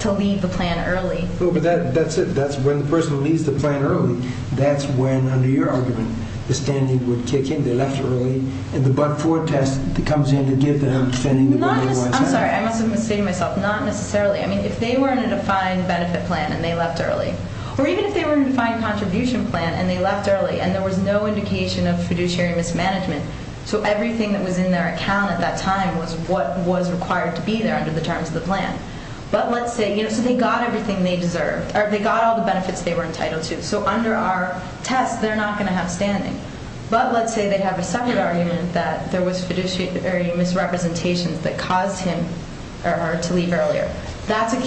to leave the plan early. Well, but that's it. That's where the person leaves the plan early. That's when, under your argument, the standing would kick in. They left early, and the Bud Ford test comes in to give them standing. I'm sorry. I must have mistaken myself. Not necessarily. I mean, if they were in a defined benefit plan and they left early, or even if they were in a defined contribution plan and they left early and there was no indication of fiduciary mismanagement, so everything that was in their account at that time was what was required to be there under the terms of the plan. But let's say if they got everything they deserved, or they got all the benefits they were entitled to, so under our test they're not going to have standing. But let's say they have a second argument that there was fiduciary misrepresentations that caused him or her to leave earlier. That's a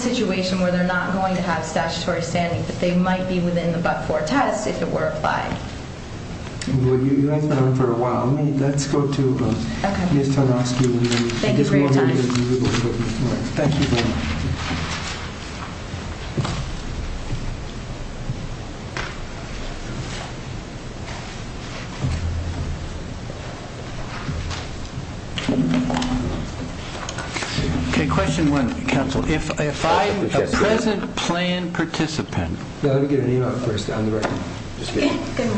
situation where they're not going to have statutory standing, that they might be within the Bud Ford test if it were a five. Well, you guys have been on for a while. Let's go to Ms. Tarasova. Thank you for your time. Okay, question one, counsel. If I'm a present plan participant. Let me get a new one first on the record. Good morning. Good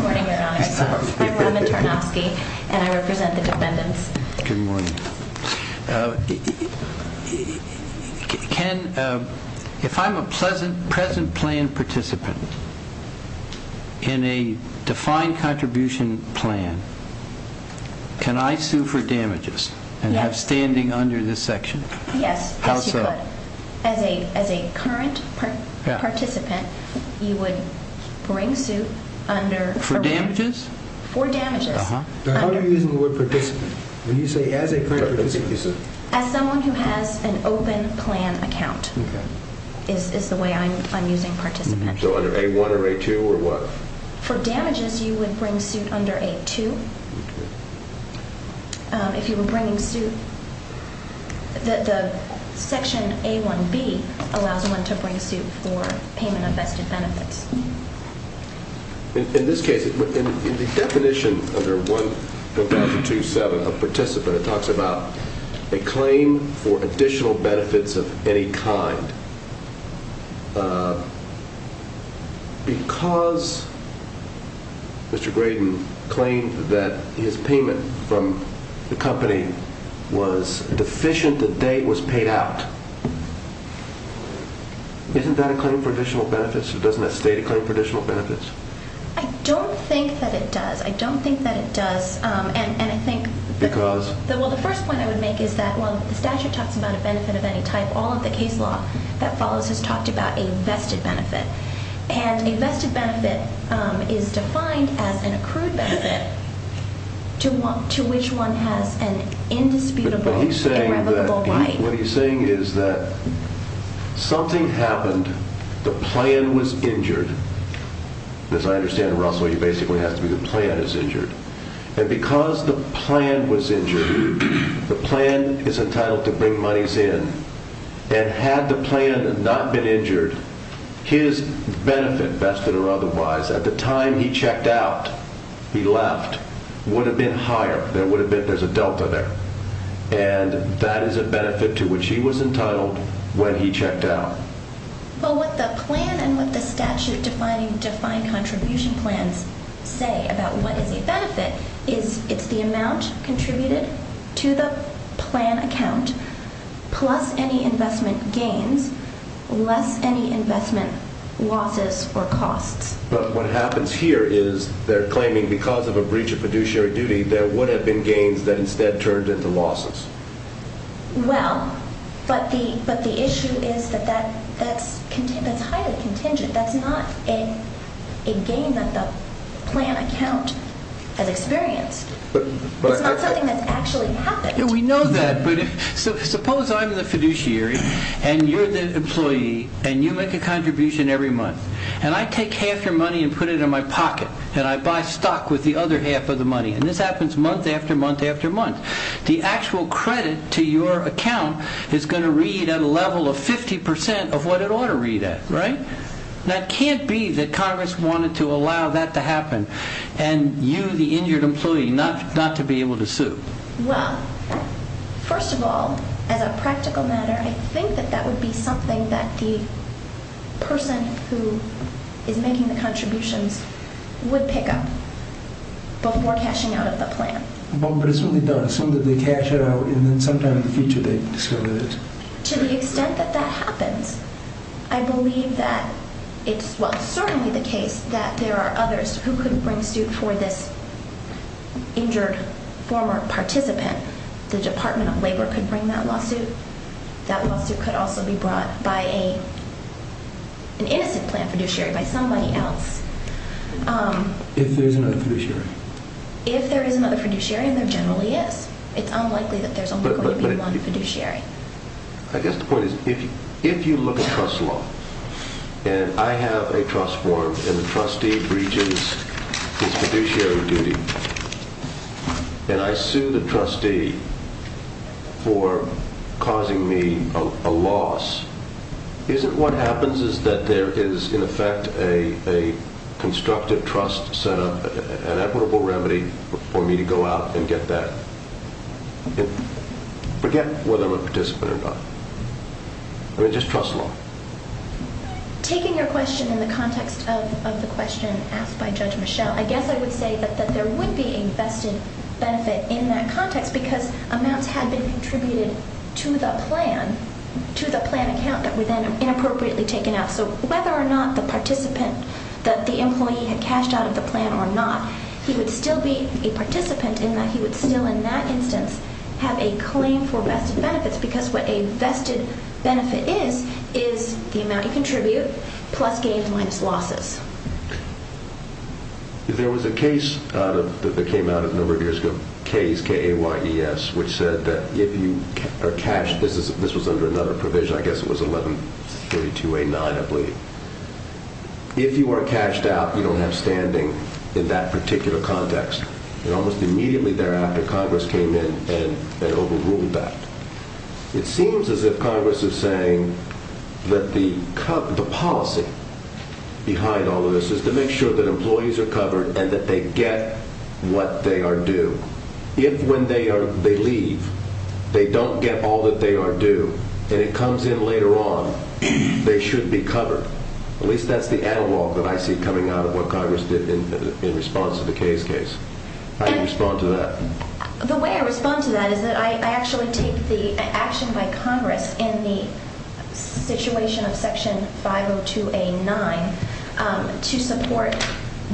morning, everyone. I'm Robin Tarnofsky, and I represent the descendants. Good morning. If I'm a present plan participant in a defined contribution plan, can I sue for damages and have standing under this section? Yes. As a current participant, you would bring to under. For damages? For damages. How do you use the word participant? Would you say as a current participant? As someone who has an open plan account is the way I'm using participant. So under A-1 or A-2 or what? For damages, you would bring suit under A-2. If you were bringing suit, the section A-1B allows one to bring suit for payment of that benefit. In this case, in the definition under 1.127 of participant, it talks about a claim for additional benefits of any kind. Because Mr. Braden claimed that his payment from the company was deficient, the date was paid out. Isn't that a claim for additional benefits? Doesn't that state a claim for additional benefits? I don't think that it does. I don't think that it does. And I think the first point I would make is that while the statute talks about a benefit of any type, all of the case law that follows has talked about a vested benefit. And a vested benefit is defined as an accrued benefit to which one has an indisputable, irrevocable right. What he's saying is that something happened. The plan was injured. As I understand, Russell, he basically has to be the plan that's injured. And because the plan was injured, the plan is entitled to bring monies in. And had the plan not been injured, his benefit, vested or otherwise, at the time he checked out, he left, would have been higher. There's a delta there. And that is a benefit to which he was entitled when he checked out. But what the plan and what the statute defining defined contribution plan say about what the benefit is, it's the amount contributed to the plan account plus any investment gain, less any investment losses or costs. But what happens here is they're claiming because of a breach of Well, but the issue is that that's contingent. That's not a gain that the plan account has experienced. It's not something that actually happened. Yeah, we know that. But suppose I'm the fiduciary and you're the employee and you make a contribution every month. And I take half your money and put it in my pocket. And I buy stock with the other half of the money. And this happens month after month after month. The actual credit to your account is going to read at a level of 50% of what it ought to read at, right? Now, it can't be that Congress wanted to allow that to happen and you, the injured employee, not to be able to sue. Well, first of all, as a practical matter, I think that that would be something that the person who is making the contribution would pick up before cashing out of the plan. Well, but it's something they'll assume that they cashed out and then sometime in the future they'll decide to do this. To the extent that that happens, I believe that it's certainly the case that there are others who could bring suit for this injured former participant. The Department of Labor could bring that lawsuit. That lawsuit could also be brought by an innocent plan fiduciary, by somebody else. If there is another fiduciary. If there is another fiduciary, and there generally is, it's unlikely that there's only one fiduciary. I guess the point is, if you look at trust law, and I have a trust form and the trustee breaches his fiduciary duty, and I sue the trustee for causing me a loss, isn't what happens is that there is, in effect, a constructive trust set up and equitable remedy for me to go out and get that. Forget whether I'm a participant or not. I mean, just trust law. Taking your question in the context of the question asked by Judge Michel, I guess I would say that there would be invested benefit in that context because amounts had been contributed to the plan account that was then inappropriately taken out. So whether or not the participant that the employee had cashed out of the plan or not, he would still be a participant in that he would still, in that instance, have a claim for vested benefits because what a vested benefit is, is the amount he contributed plus gains minus losses. There was a case that came out in the Reviews of Cases, K-A-Y-E-S, which said that if you are cashed, this was under another provision, which I guess was 1132A9, I believe. If you weren't cashed out, you don't have standing in that particular context. And almost immediately thereafter, Congress came in and overruled that. It seems as if Congress is saying that the policy behind all of this is to make sure that employees are covered and that they get what they are due. If when they leave, they don't get all that they are due and it comes in later on, they shouldn't be covered. At least that's the analog that I see coming out of what Congress did in response to the K-A-Y-E-S case. How do you respond to that? The way I respond to that is that I actually take the action by Congress in the situation of Section 502A9 to support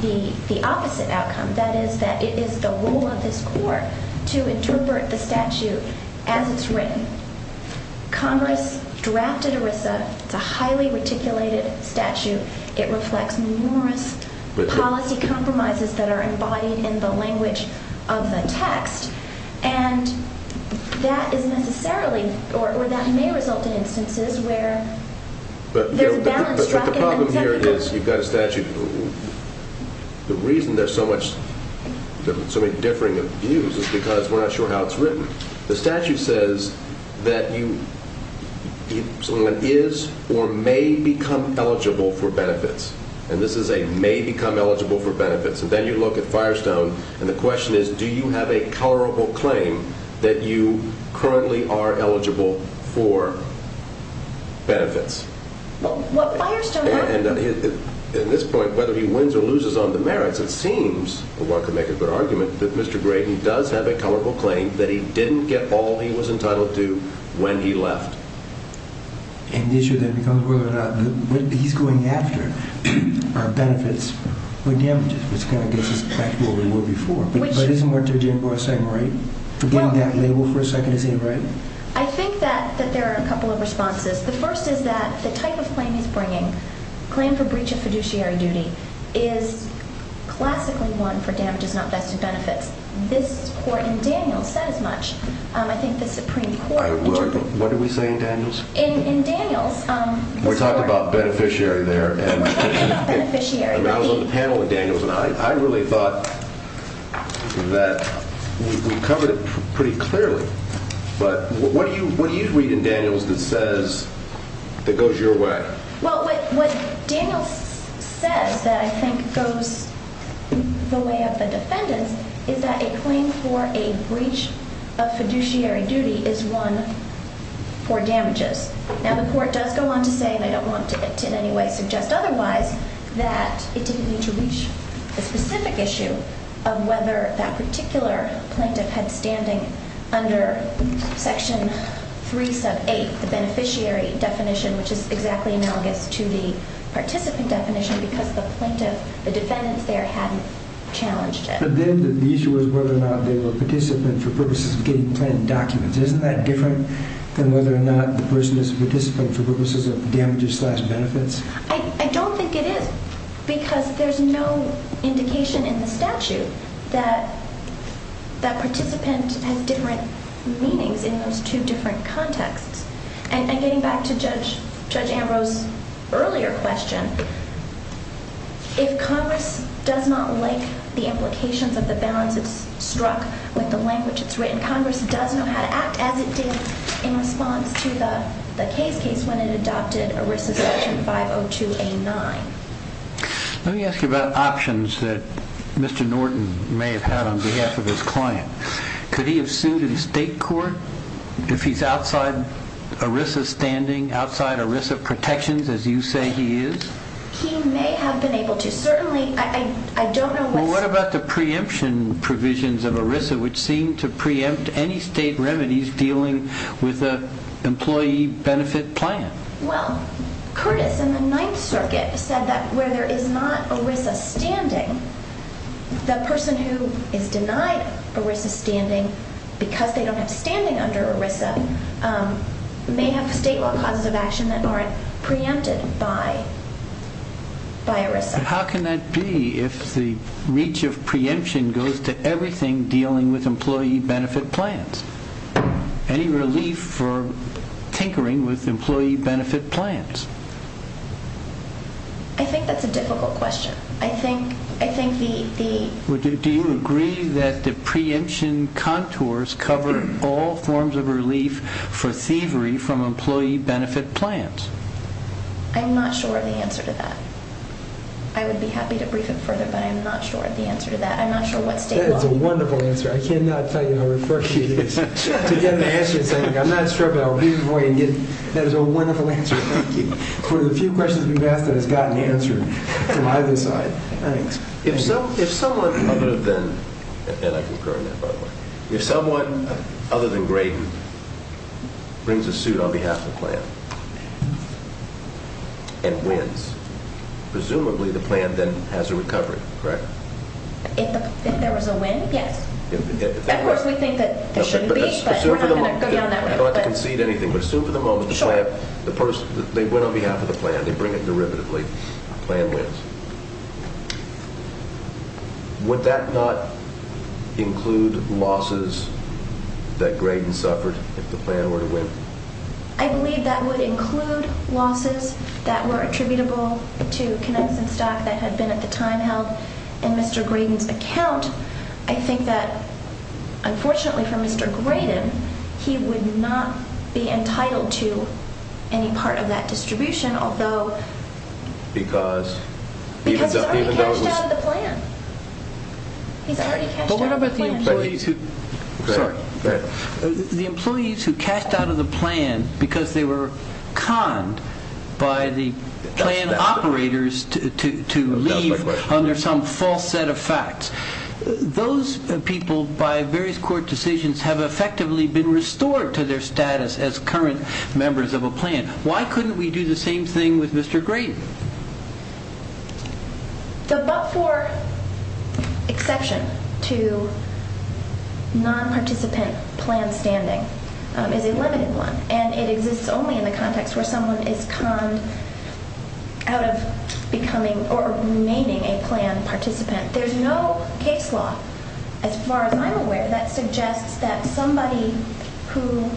the opposite outcome, that is that it is the role of this Court to interpret the statute as it's written. Congress drafted it with a highly articulated statute. It reflects numerous policy compromises that are embodied in the language of the text. And that is necessarily, or that may result in instances The reason there's so many differing views is because we're not sure how it's written. The statute says that someone is or may become eligible for benefits. And this is a may become eligible for benefits. And then you look at Firestone, and the question is, do you have a tolerable claim that you currently are eligible for benefits? In this point, whether he wins or loses on the merits, it seems, one could make a good argument, that Mr. Gray, he does have a tolerable claim that he didn't get all he was entitled to when he left. And the issue then becomes whether or not he's going after benefits or damages, which kind of goes back to where we were before. But isn't what Jim Ross said right? I think that there are a couple of responses. The first is that the type of claim he's bringing, claim for breach of fiduciary duty, is classically one for damages, not benefits. This court in Daniels said as much. I think this is pretty important. What did we say in Daniels? In Daniels, We talked about beneficiary there. We talked about beneficiary. And I was on the panel with Daniels, and I really thought that we covered it pretty clearly. But what do you read in Daniels that goes your way? Well, what Daniels said that I think goes the way of the defendant, is that a claim for a breach of fiduciary duty is one for damages. Now, the court does go on to say, and I don't want to in any way suggest otherwise, that it didn't reach a specific issue of whether that particular claim kind of had standing under Section 378, the beneficiary definition, which is exactly analogous to the participant definition because the plaintiff, the defendant there, hadn't challenged it. But then the issue was whether or not they were a participant for purposes of getting plaintiff documents. Isn't that different than whether or not the person is a participant for purposes of damages-slash-benefits? I don't think it is because there's no indication in the statute that participants have different meanings in those two different contexts. And getting back to Judge Ambrose's earlier question, if Congress does not like the application, but the balance is struck, but the language is written, Congress does not act as it did in response to the case case when it adopted ERISA Section 502A9. Let me ask you about options that Mr. Norton may have had on behalf of his client. Could he have sued in state court if he's outside ERISA standing, outside ERISA protections, as you say he is? He may have been able to. Certainly, I don't know what... Well, what about the preemption provisions of ERISA, which seem to preempt any state remedies dealing with the employee benefit plan? Well, Curtis in the Ninth Circuit said that where there is not ERISA standing, the person who is denied ERISA standing because they don't have standing under ERISA may have to state what causes of action that aren't preempted by ERISA. How can that be if the reach of preemption goes to everything dealing with employee benefit plans? Any relief for tinkering with employee benefit plans? I think that's a difficult question. I think the... Do you agree that the preemption contours cover all forms of relief for thievery from employee benefit plans? I'm not sure of the answer to that. I would be happy to brief him further, but I'm not sure of the answer to that. I'm not sure what state law... That is a wonderful answer. I cannot tell you in a refresher to get an answer to that. I'm not sure about a reasonable way to get... That is a wonderful answer. Thank you. There were a few questions you've asked that have gotten answered from either side. Thanks. If someone... I'm going to then... Then I concur. If someone, other than Graydon, brings a suit on behalf of the plan and wins, presumably the plan then has a recovery, correct? If there was a win, yes. Of course, we think that that should be the case, but we're not going to put it on that list. I don't want to concede anything, but assume for the moment that the person... They win on behalf of the plan. They bring it derivatively. The plan wins. Would that not include losses that Graydon suffered if the plan were to win? I believe that would include losses that were attributable to connected stock that had been at the time held in Mr. Graydon's account. I think that, unfortunately for Mr. Graydon, he would not be entitled to any part of that distribution, although... Because? Because he cast out of the plan. He's already cast out of the plan. The employees who cast out of the plan because they were conned by the plan operators to leave under some false set of facts. Those people, by various court decisions, have effectively been restored to their status as current members of a plan. Why couldn't we do the same thing with Mr. Graydon? The but-for exception to non-participant plan standing is a limited one, and it exists only in the context where someone is conned out of becoming or remaining a plan participant. There's no case law, as far as I'm aware, that suggests that somebody who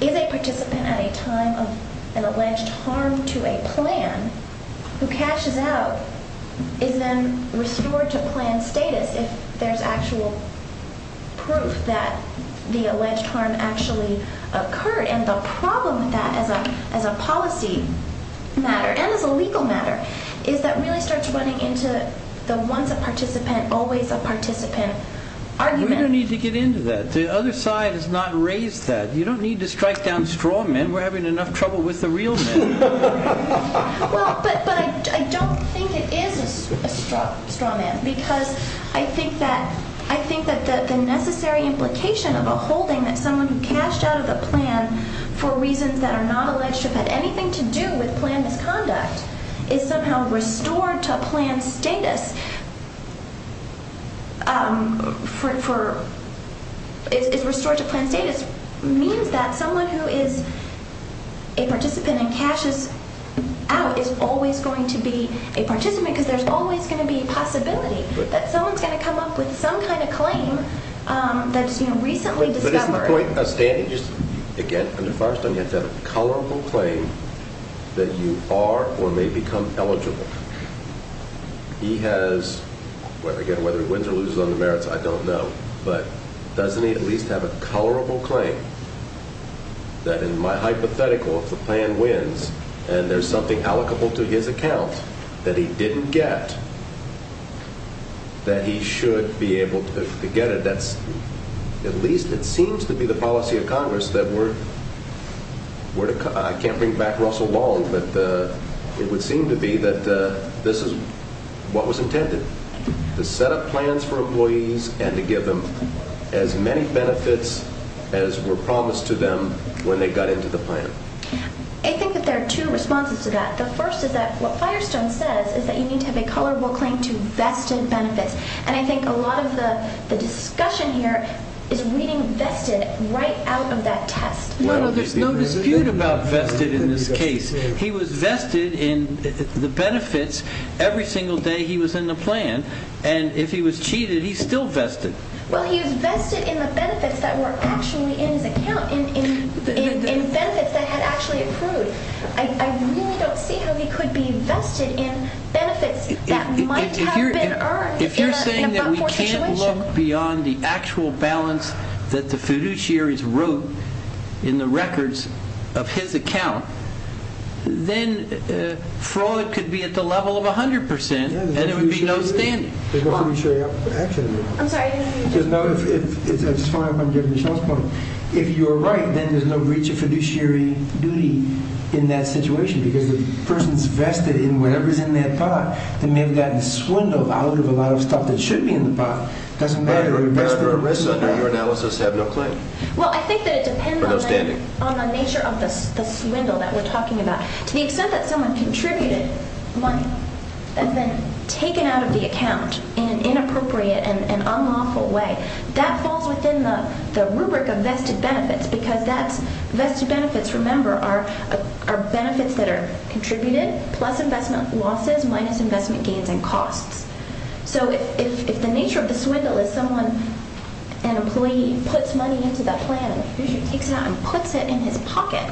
is a participant at a time of an alleged harm to a plan who casts out is then restored to plan status if there's actual proof that the alleged harm actually occurred. And the problem with that as a policy matter and as a legal matter is that we really start getting into the once a participant, always a participant argument. We don't need to get into that. The other side has not raised that. You don't need to strike down straw men. We're having enough trouble with the real men. Well, but I don't think it is a straw man because I think that the necessary implication about holding that someone who casts out of the plan for reasons that are not alleged to have anything to do with plan conduct is somehow restored to plan status is restored to plan status means that someone who is a participant and casts out is always going to be a participant because there's always going to be a possibility that someone's going to come up with some kind of claim that's been recently discovered. But is my point of standing against a person against that colorable claim that you are or may become eligible? He has, again, whether he wins or loses on the merits, I don't know, but doesn't he at least have a colorable claim that in my hypothetical if the plan wins and there's something allocable to his account that he didn't get that he should be able to get it, that at least it seems to be the policy of Congress that we're... I can't think back Russell Wally, but it would seem to be that this is what was intended, to set up plans for employees and to give them as many benefits as were promised to them when they got into the plan. I think that there are two responses to that. The first is that what Firestone says is that you need to have a colorable claim to vested benefits. And I think a lot of the discussion here is reading vested right out of that test. No, there's no dispute about vested in this case. He was vested in the benefits every single day he was in the plan, and if he was cheated, he's still vested. Well, he was vested in the benefits that were actually in the account, in benefits that had actually accrued. I really don't think that he could be vested in benefits that might have been earned in a fortunate situation. If you're saying that we can't look beyond the actual balance that the fiduciaries wrote in the records of his account, then fraud could be at the level of 100%, and there would be no standing. There's no fiduciary option, actually. I'm sorry, I didn't mean to interrupt. That's fine, I'm getting the checkpoint. If you're right, then there's no breach of fiduciary duty in that situation because the person's vested in whatever's in that pot, and they've gotten swindled out of a lot of stuff that should be in the pot. There's no risk in your analysis to have no claim. Well, I think that it depends on the nature of the swindle that we're talking about. To the extent that someone contributed money and then taken out of the account in an inappropriate and unlawful way, that falls within the rubric of vested benefits because vested benefits, remember, are benefits that are contributed plus investment losses minus investment gains in cost. So if the nature of the swindle is someone, an employee, puts money into that plan, he takes it out and puts it in his pocket,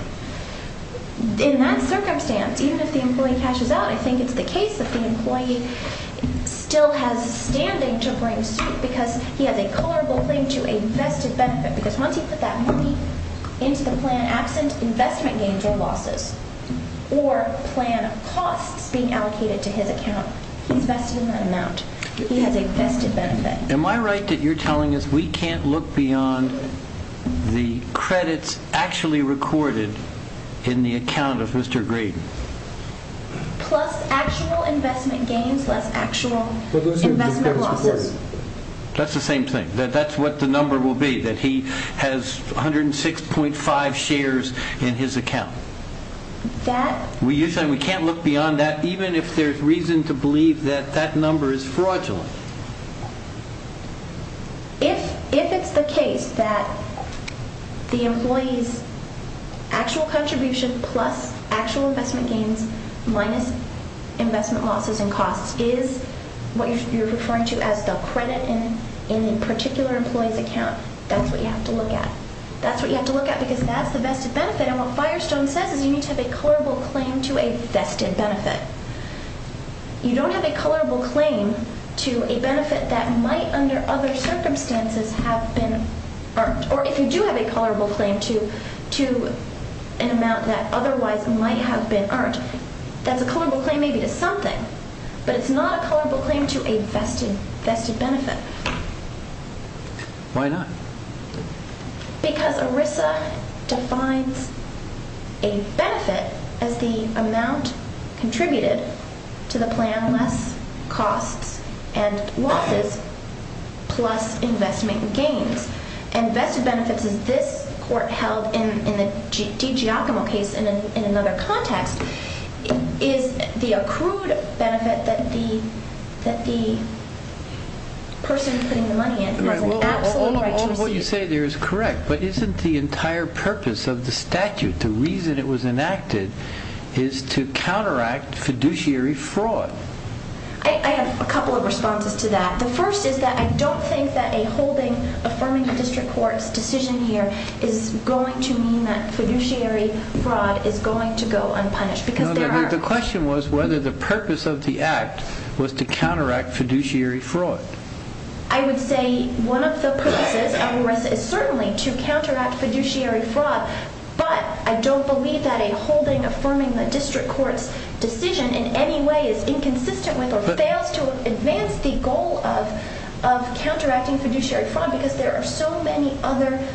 in that circumstance, even if the employee cashes out, I think it's the case that the employee still has standing to claim because he has a colorable thing to a vested benefit because once he puts that money into the plan, absent investment gains or losses, or plan costs being allocated to his account, he's asking for an amount. He has a vested benefit. Am I right that you're telling us we can't look beyond the credits actually recorded in the account of Mr. Graydon? Plus actual investment gains plus actual investment losses. That's the same thing. That's what the number will be, that he has 106.5 shares in his account. You're saying we can't look beyond that even if there's reason to believe that that number is fraudulent? If it's the case that the employee's actual contribution plus actual investment gains minus investment losses and costs is what you're referring to as the credit in the particular employee's account, that's what you have to look at. That's what you have to look at because that's a vested benefit. On a Firestone 7, you need to have a colorable claim to a vested benefit. You don't have a colorable claim to a benefit that might, under other circumstances, have been earned. Or if you do have a colorable claim to an amount that otherwise might have been earned, then the colorable claim may be to something, but it's not a colorable claim to a vested benefit. Why not? Because ERISA defines a vested as the amount contributed to the plan less costs and losses plus investment gains. Vested benefits in this court held in a DG O'Connell case in another context is the accrued benefit that the person putting the money in. What you say there is correct, but isn't the entire purpose of the statute, the reason it was enacted, is to counteract fiduciary fraud? I have a couple of responses to that. The first is that I don't think that a holding affirming the district court's decision here is going to mean that fiduciary fraud is going to go unpunished. The question was whether the purpose of the act was to counteract fiduciary fraud. I would say one of the purposes of ERISA is certainly to counteract fiduciary fraud, but I don't believe that a holding affirming the district court's decision in any way is inconsistent with or fails to advance the goal of counteracting fiduciary fraud because there are so many other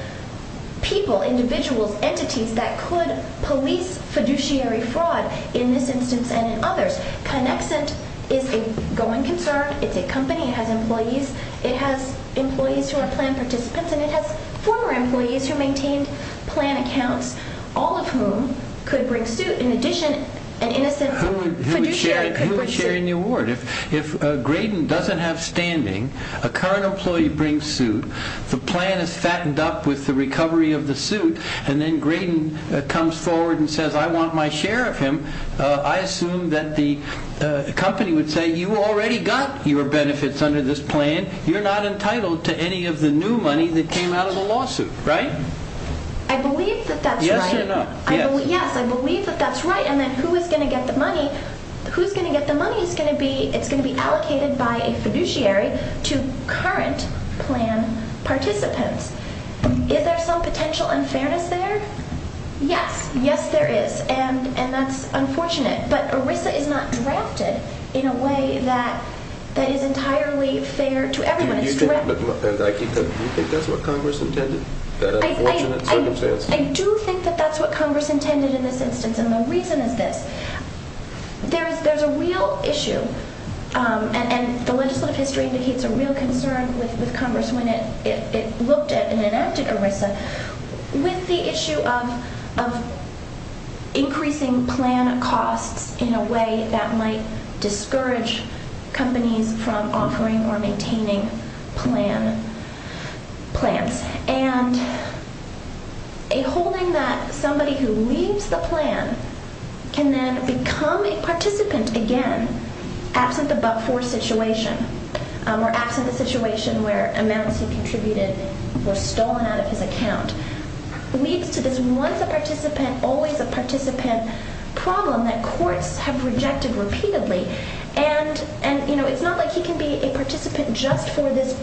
people, individuals, entities, that could police fiduciary fraud in this instance and in others. Connexent is a going to firm, it's a company, it has employees, it has employees who are plan participants, and it has former employees who maintain plan accounts, all of whom could bring suit in addition to an innocent fiduciary participant. Who is sharing the award? If Graydon doesn't have standing, a current employee brings suit, the plan is fattened up with the recovery of the suit, and then Graydon comes forward and says, I want my share of him, I assume that the company would say, you already got your benefits under this plan, you're not entitled to any of the new money that came out of the lawsuit, right? I believe that that's right. Yes, I believe that that's right, and then who is going to get the money? Who's going to get the money is going to be allocated by a fiduciary to current plan participants. Is there some potential unfairness there? Yes, yes there is, and that's unfortunate, but ERISA is not drafted in a way that is entirely fair to everyone. Do you think that's what Congress intended? I do think that that's what Congress intended in this instance, and the reason is that there's a real issue, and the legislative history indicates a real concern with Congress when it looked at and enacted ERISA, with the issue of increasing plan costs in a way that might discourage companies from offering or maintaining plans, and a holding that somebody who leaves the plan can then become a participant again, after the buck four situation, or after the situation where a man who contributed was stolen out of his account. There's once a participant, always a participant problem that courts have rejected repeatedly, and it's not like he can be a participant just for this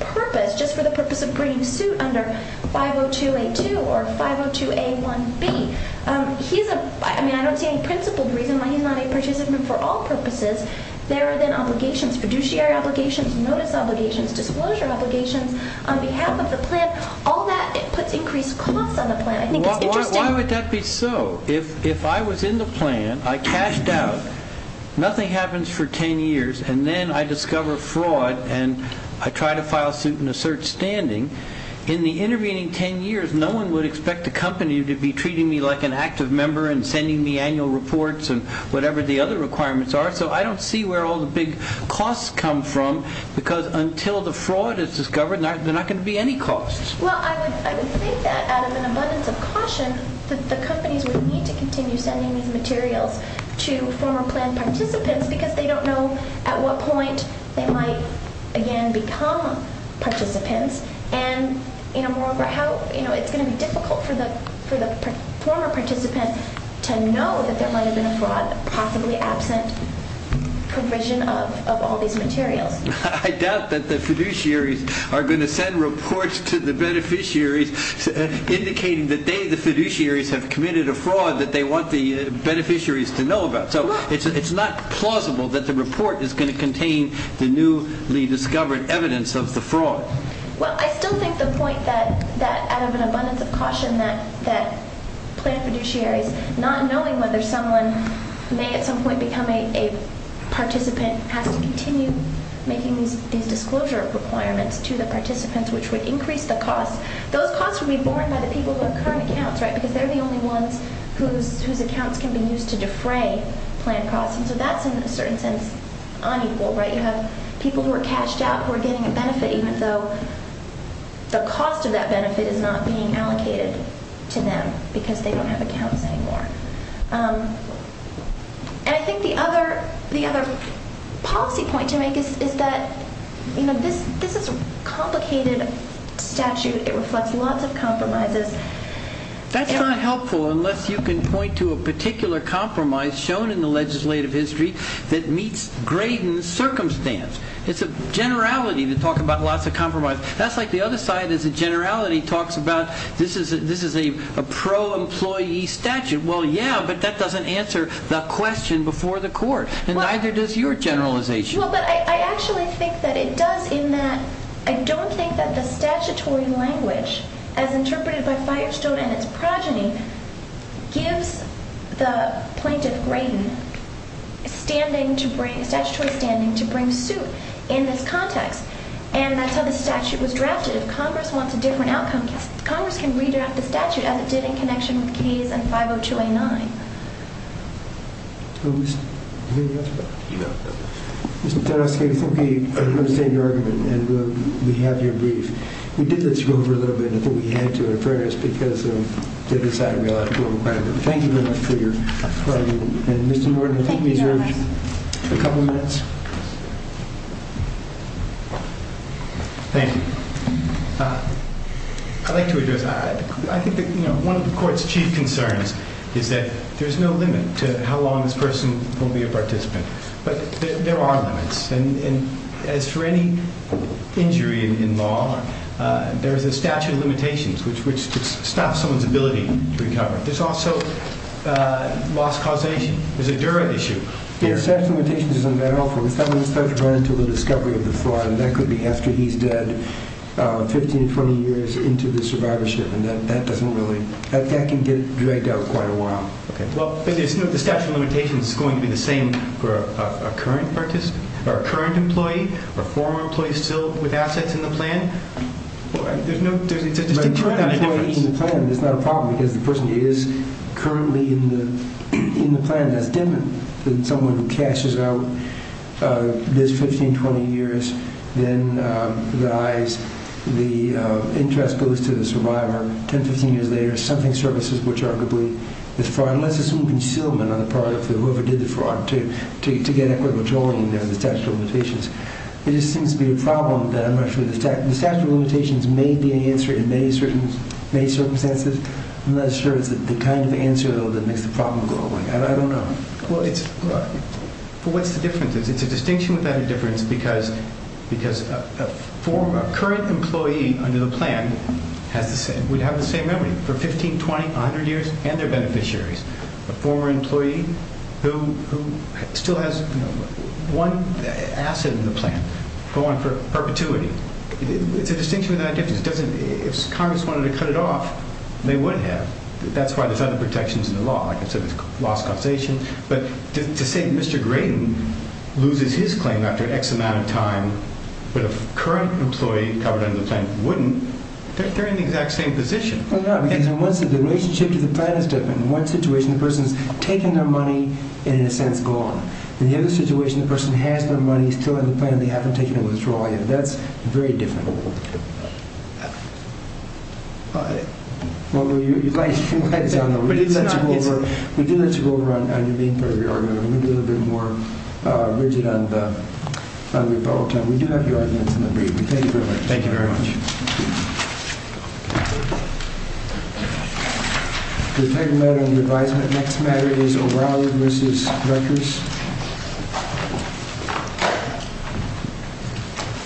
purpose, just for the purpose of bringing suit under 502A2 or 502A1B. I don't see any principle reason why he's not a participant for all purposes. There have been obligations, fiduciary obligations, notice obligations, disclosure obligations, on behalf of the plan, all that could increase costs on the plan. Why would that be so? If I was in the plan, I cashed out, nothing happens for 10 years, and then I discover fraud and I try to file suit and assert standing, in the intervening 10 years no one would expect the company to be treating me like an active member and sending me annual reports and whatever the other requirements are, so I don't see where all the big costs come from, because until the fraud is discovered there's not going to be any costs. Well, I would say that as an abundance of caution, the companies would need to continue sending these materials to former plan participants because they don't know at what point they might, again, become participants, and moreover, it's going to be difficult for the former participants to know that there might have been a fraud possibly absent commission of all these materials. I doubt that the fiduciaries are going to send reports to the beneficiaries indicating that they, the fiduciaries, have committed a fraud that they want the beneficiaries to know about, so it's not plausible that the report is going to contain the newly discovered evidence of the fraud. Well, I still think the point that out of an abundance of caution that plan fiduciaries, not knowing whether someone may at some point become a participant, has to continue making these disclosure requirements to the participants, which would increase the costs. Those costs would be borne by the people who are current accounts, right, because they're the only ones whose accounts can be used to defray plan fraud, and so that's, in a certain sense, unequal, right? You have people who are cashed out who are getting a benefit, even though the cost of that benefit is not being allocated to them because they don't have accounts anymore. And I think the other policy point to make is that, you know, this is a complicated statute. It reflects lots of compromises. That's not helpful unless you can point to a particular compromise shown in the legislative history that meets Graydon's circumstance. It's a generality to talk about lots of compromises. That's like the other side is a generality talks about this is a pro-employee statute. Well, yeah, but that doesn't answer the question before the court, and neither does your generalization. Well, but I actually think that it does in that I don't think that the statutory language, as interpreted by Firestone and its progeny, gives the plaintiff, Graydon, a statutory standing to bring suit in this context. And I said the statute was drafted. If Congress wants a different outcome, Congress can re-draft the statute as it did in connection with CASE and 502A9. Let me ask a question. Mr. Tarasovsky, I think we are going to stay here and we have your brief. We did let you go for a little bit, but I think we had to at first because we decided we actually wanted to. Thank you very much for your time. And, Mr. Norton, I think we have a couple minutes. Thank you. I'd like to address that. I think one of the court's chief concerns is that there's no limit to how long this person will be a participant. But there are limits. And as for any injury in law, there is a statute of limitations, which stops someone's ability to recover. There's also lost causation. There's a jury issue. Yes, that limitation is in there. That could be after he's dead, 15, 20 years into the survivorship. And that can get dragged out quite a while. But there's no statute of limitations. It's going to be the same for a current employee, a former employee still with assets in the plan. The term employee in the plan is not a problem because the person is currently in the plan. That's different than someone who cashes out this 15, 20 years. Then dies. The interest goes to the survivor. 10, 15 years later, something surfaces, which arguably is fraud. Unless there's some concealment on the part of whoever did the fraud to get equity controlling the statute of limitations. There just seems to be a problem with that. I'm not sure the statute of limitations may be an answer in many circumstances. I'm not sure it's the kind of answer that makes the problem go away. I don't know. Well, what's the difference? The distinction would be the difference because a current employee under the plan would have the same memory for 15, 20, 100 years and their beneficiaries. A former employee who still has one asset in the plan for perpetuity. The distinction would be that difference. If Congress wanted to cut it off, they would have. That's why there's other protections in the law. I consider it a law of causation. But to say Mr. Graydon loses his claim after X amount of time but a current employee covered under the plan wouldn't, they're in the exact same position. The relationship to the plan is different. In one situation, the person is taking their money in an attempt to go on. In the other situation, the person has their money, still has the plan, they haven't taken it and withdrawn it. That's very difficult. We do have to go over on your being part of the argument. We need a little bit more rigid on the result. We do have your argument in the brief. Thank you very much. Thank you very much. Thank you very much. The next matter is around Mrs. Rutgers.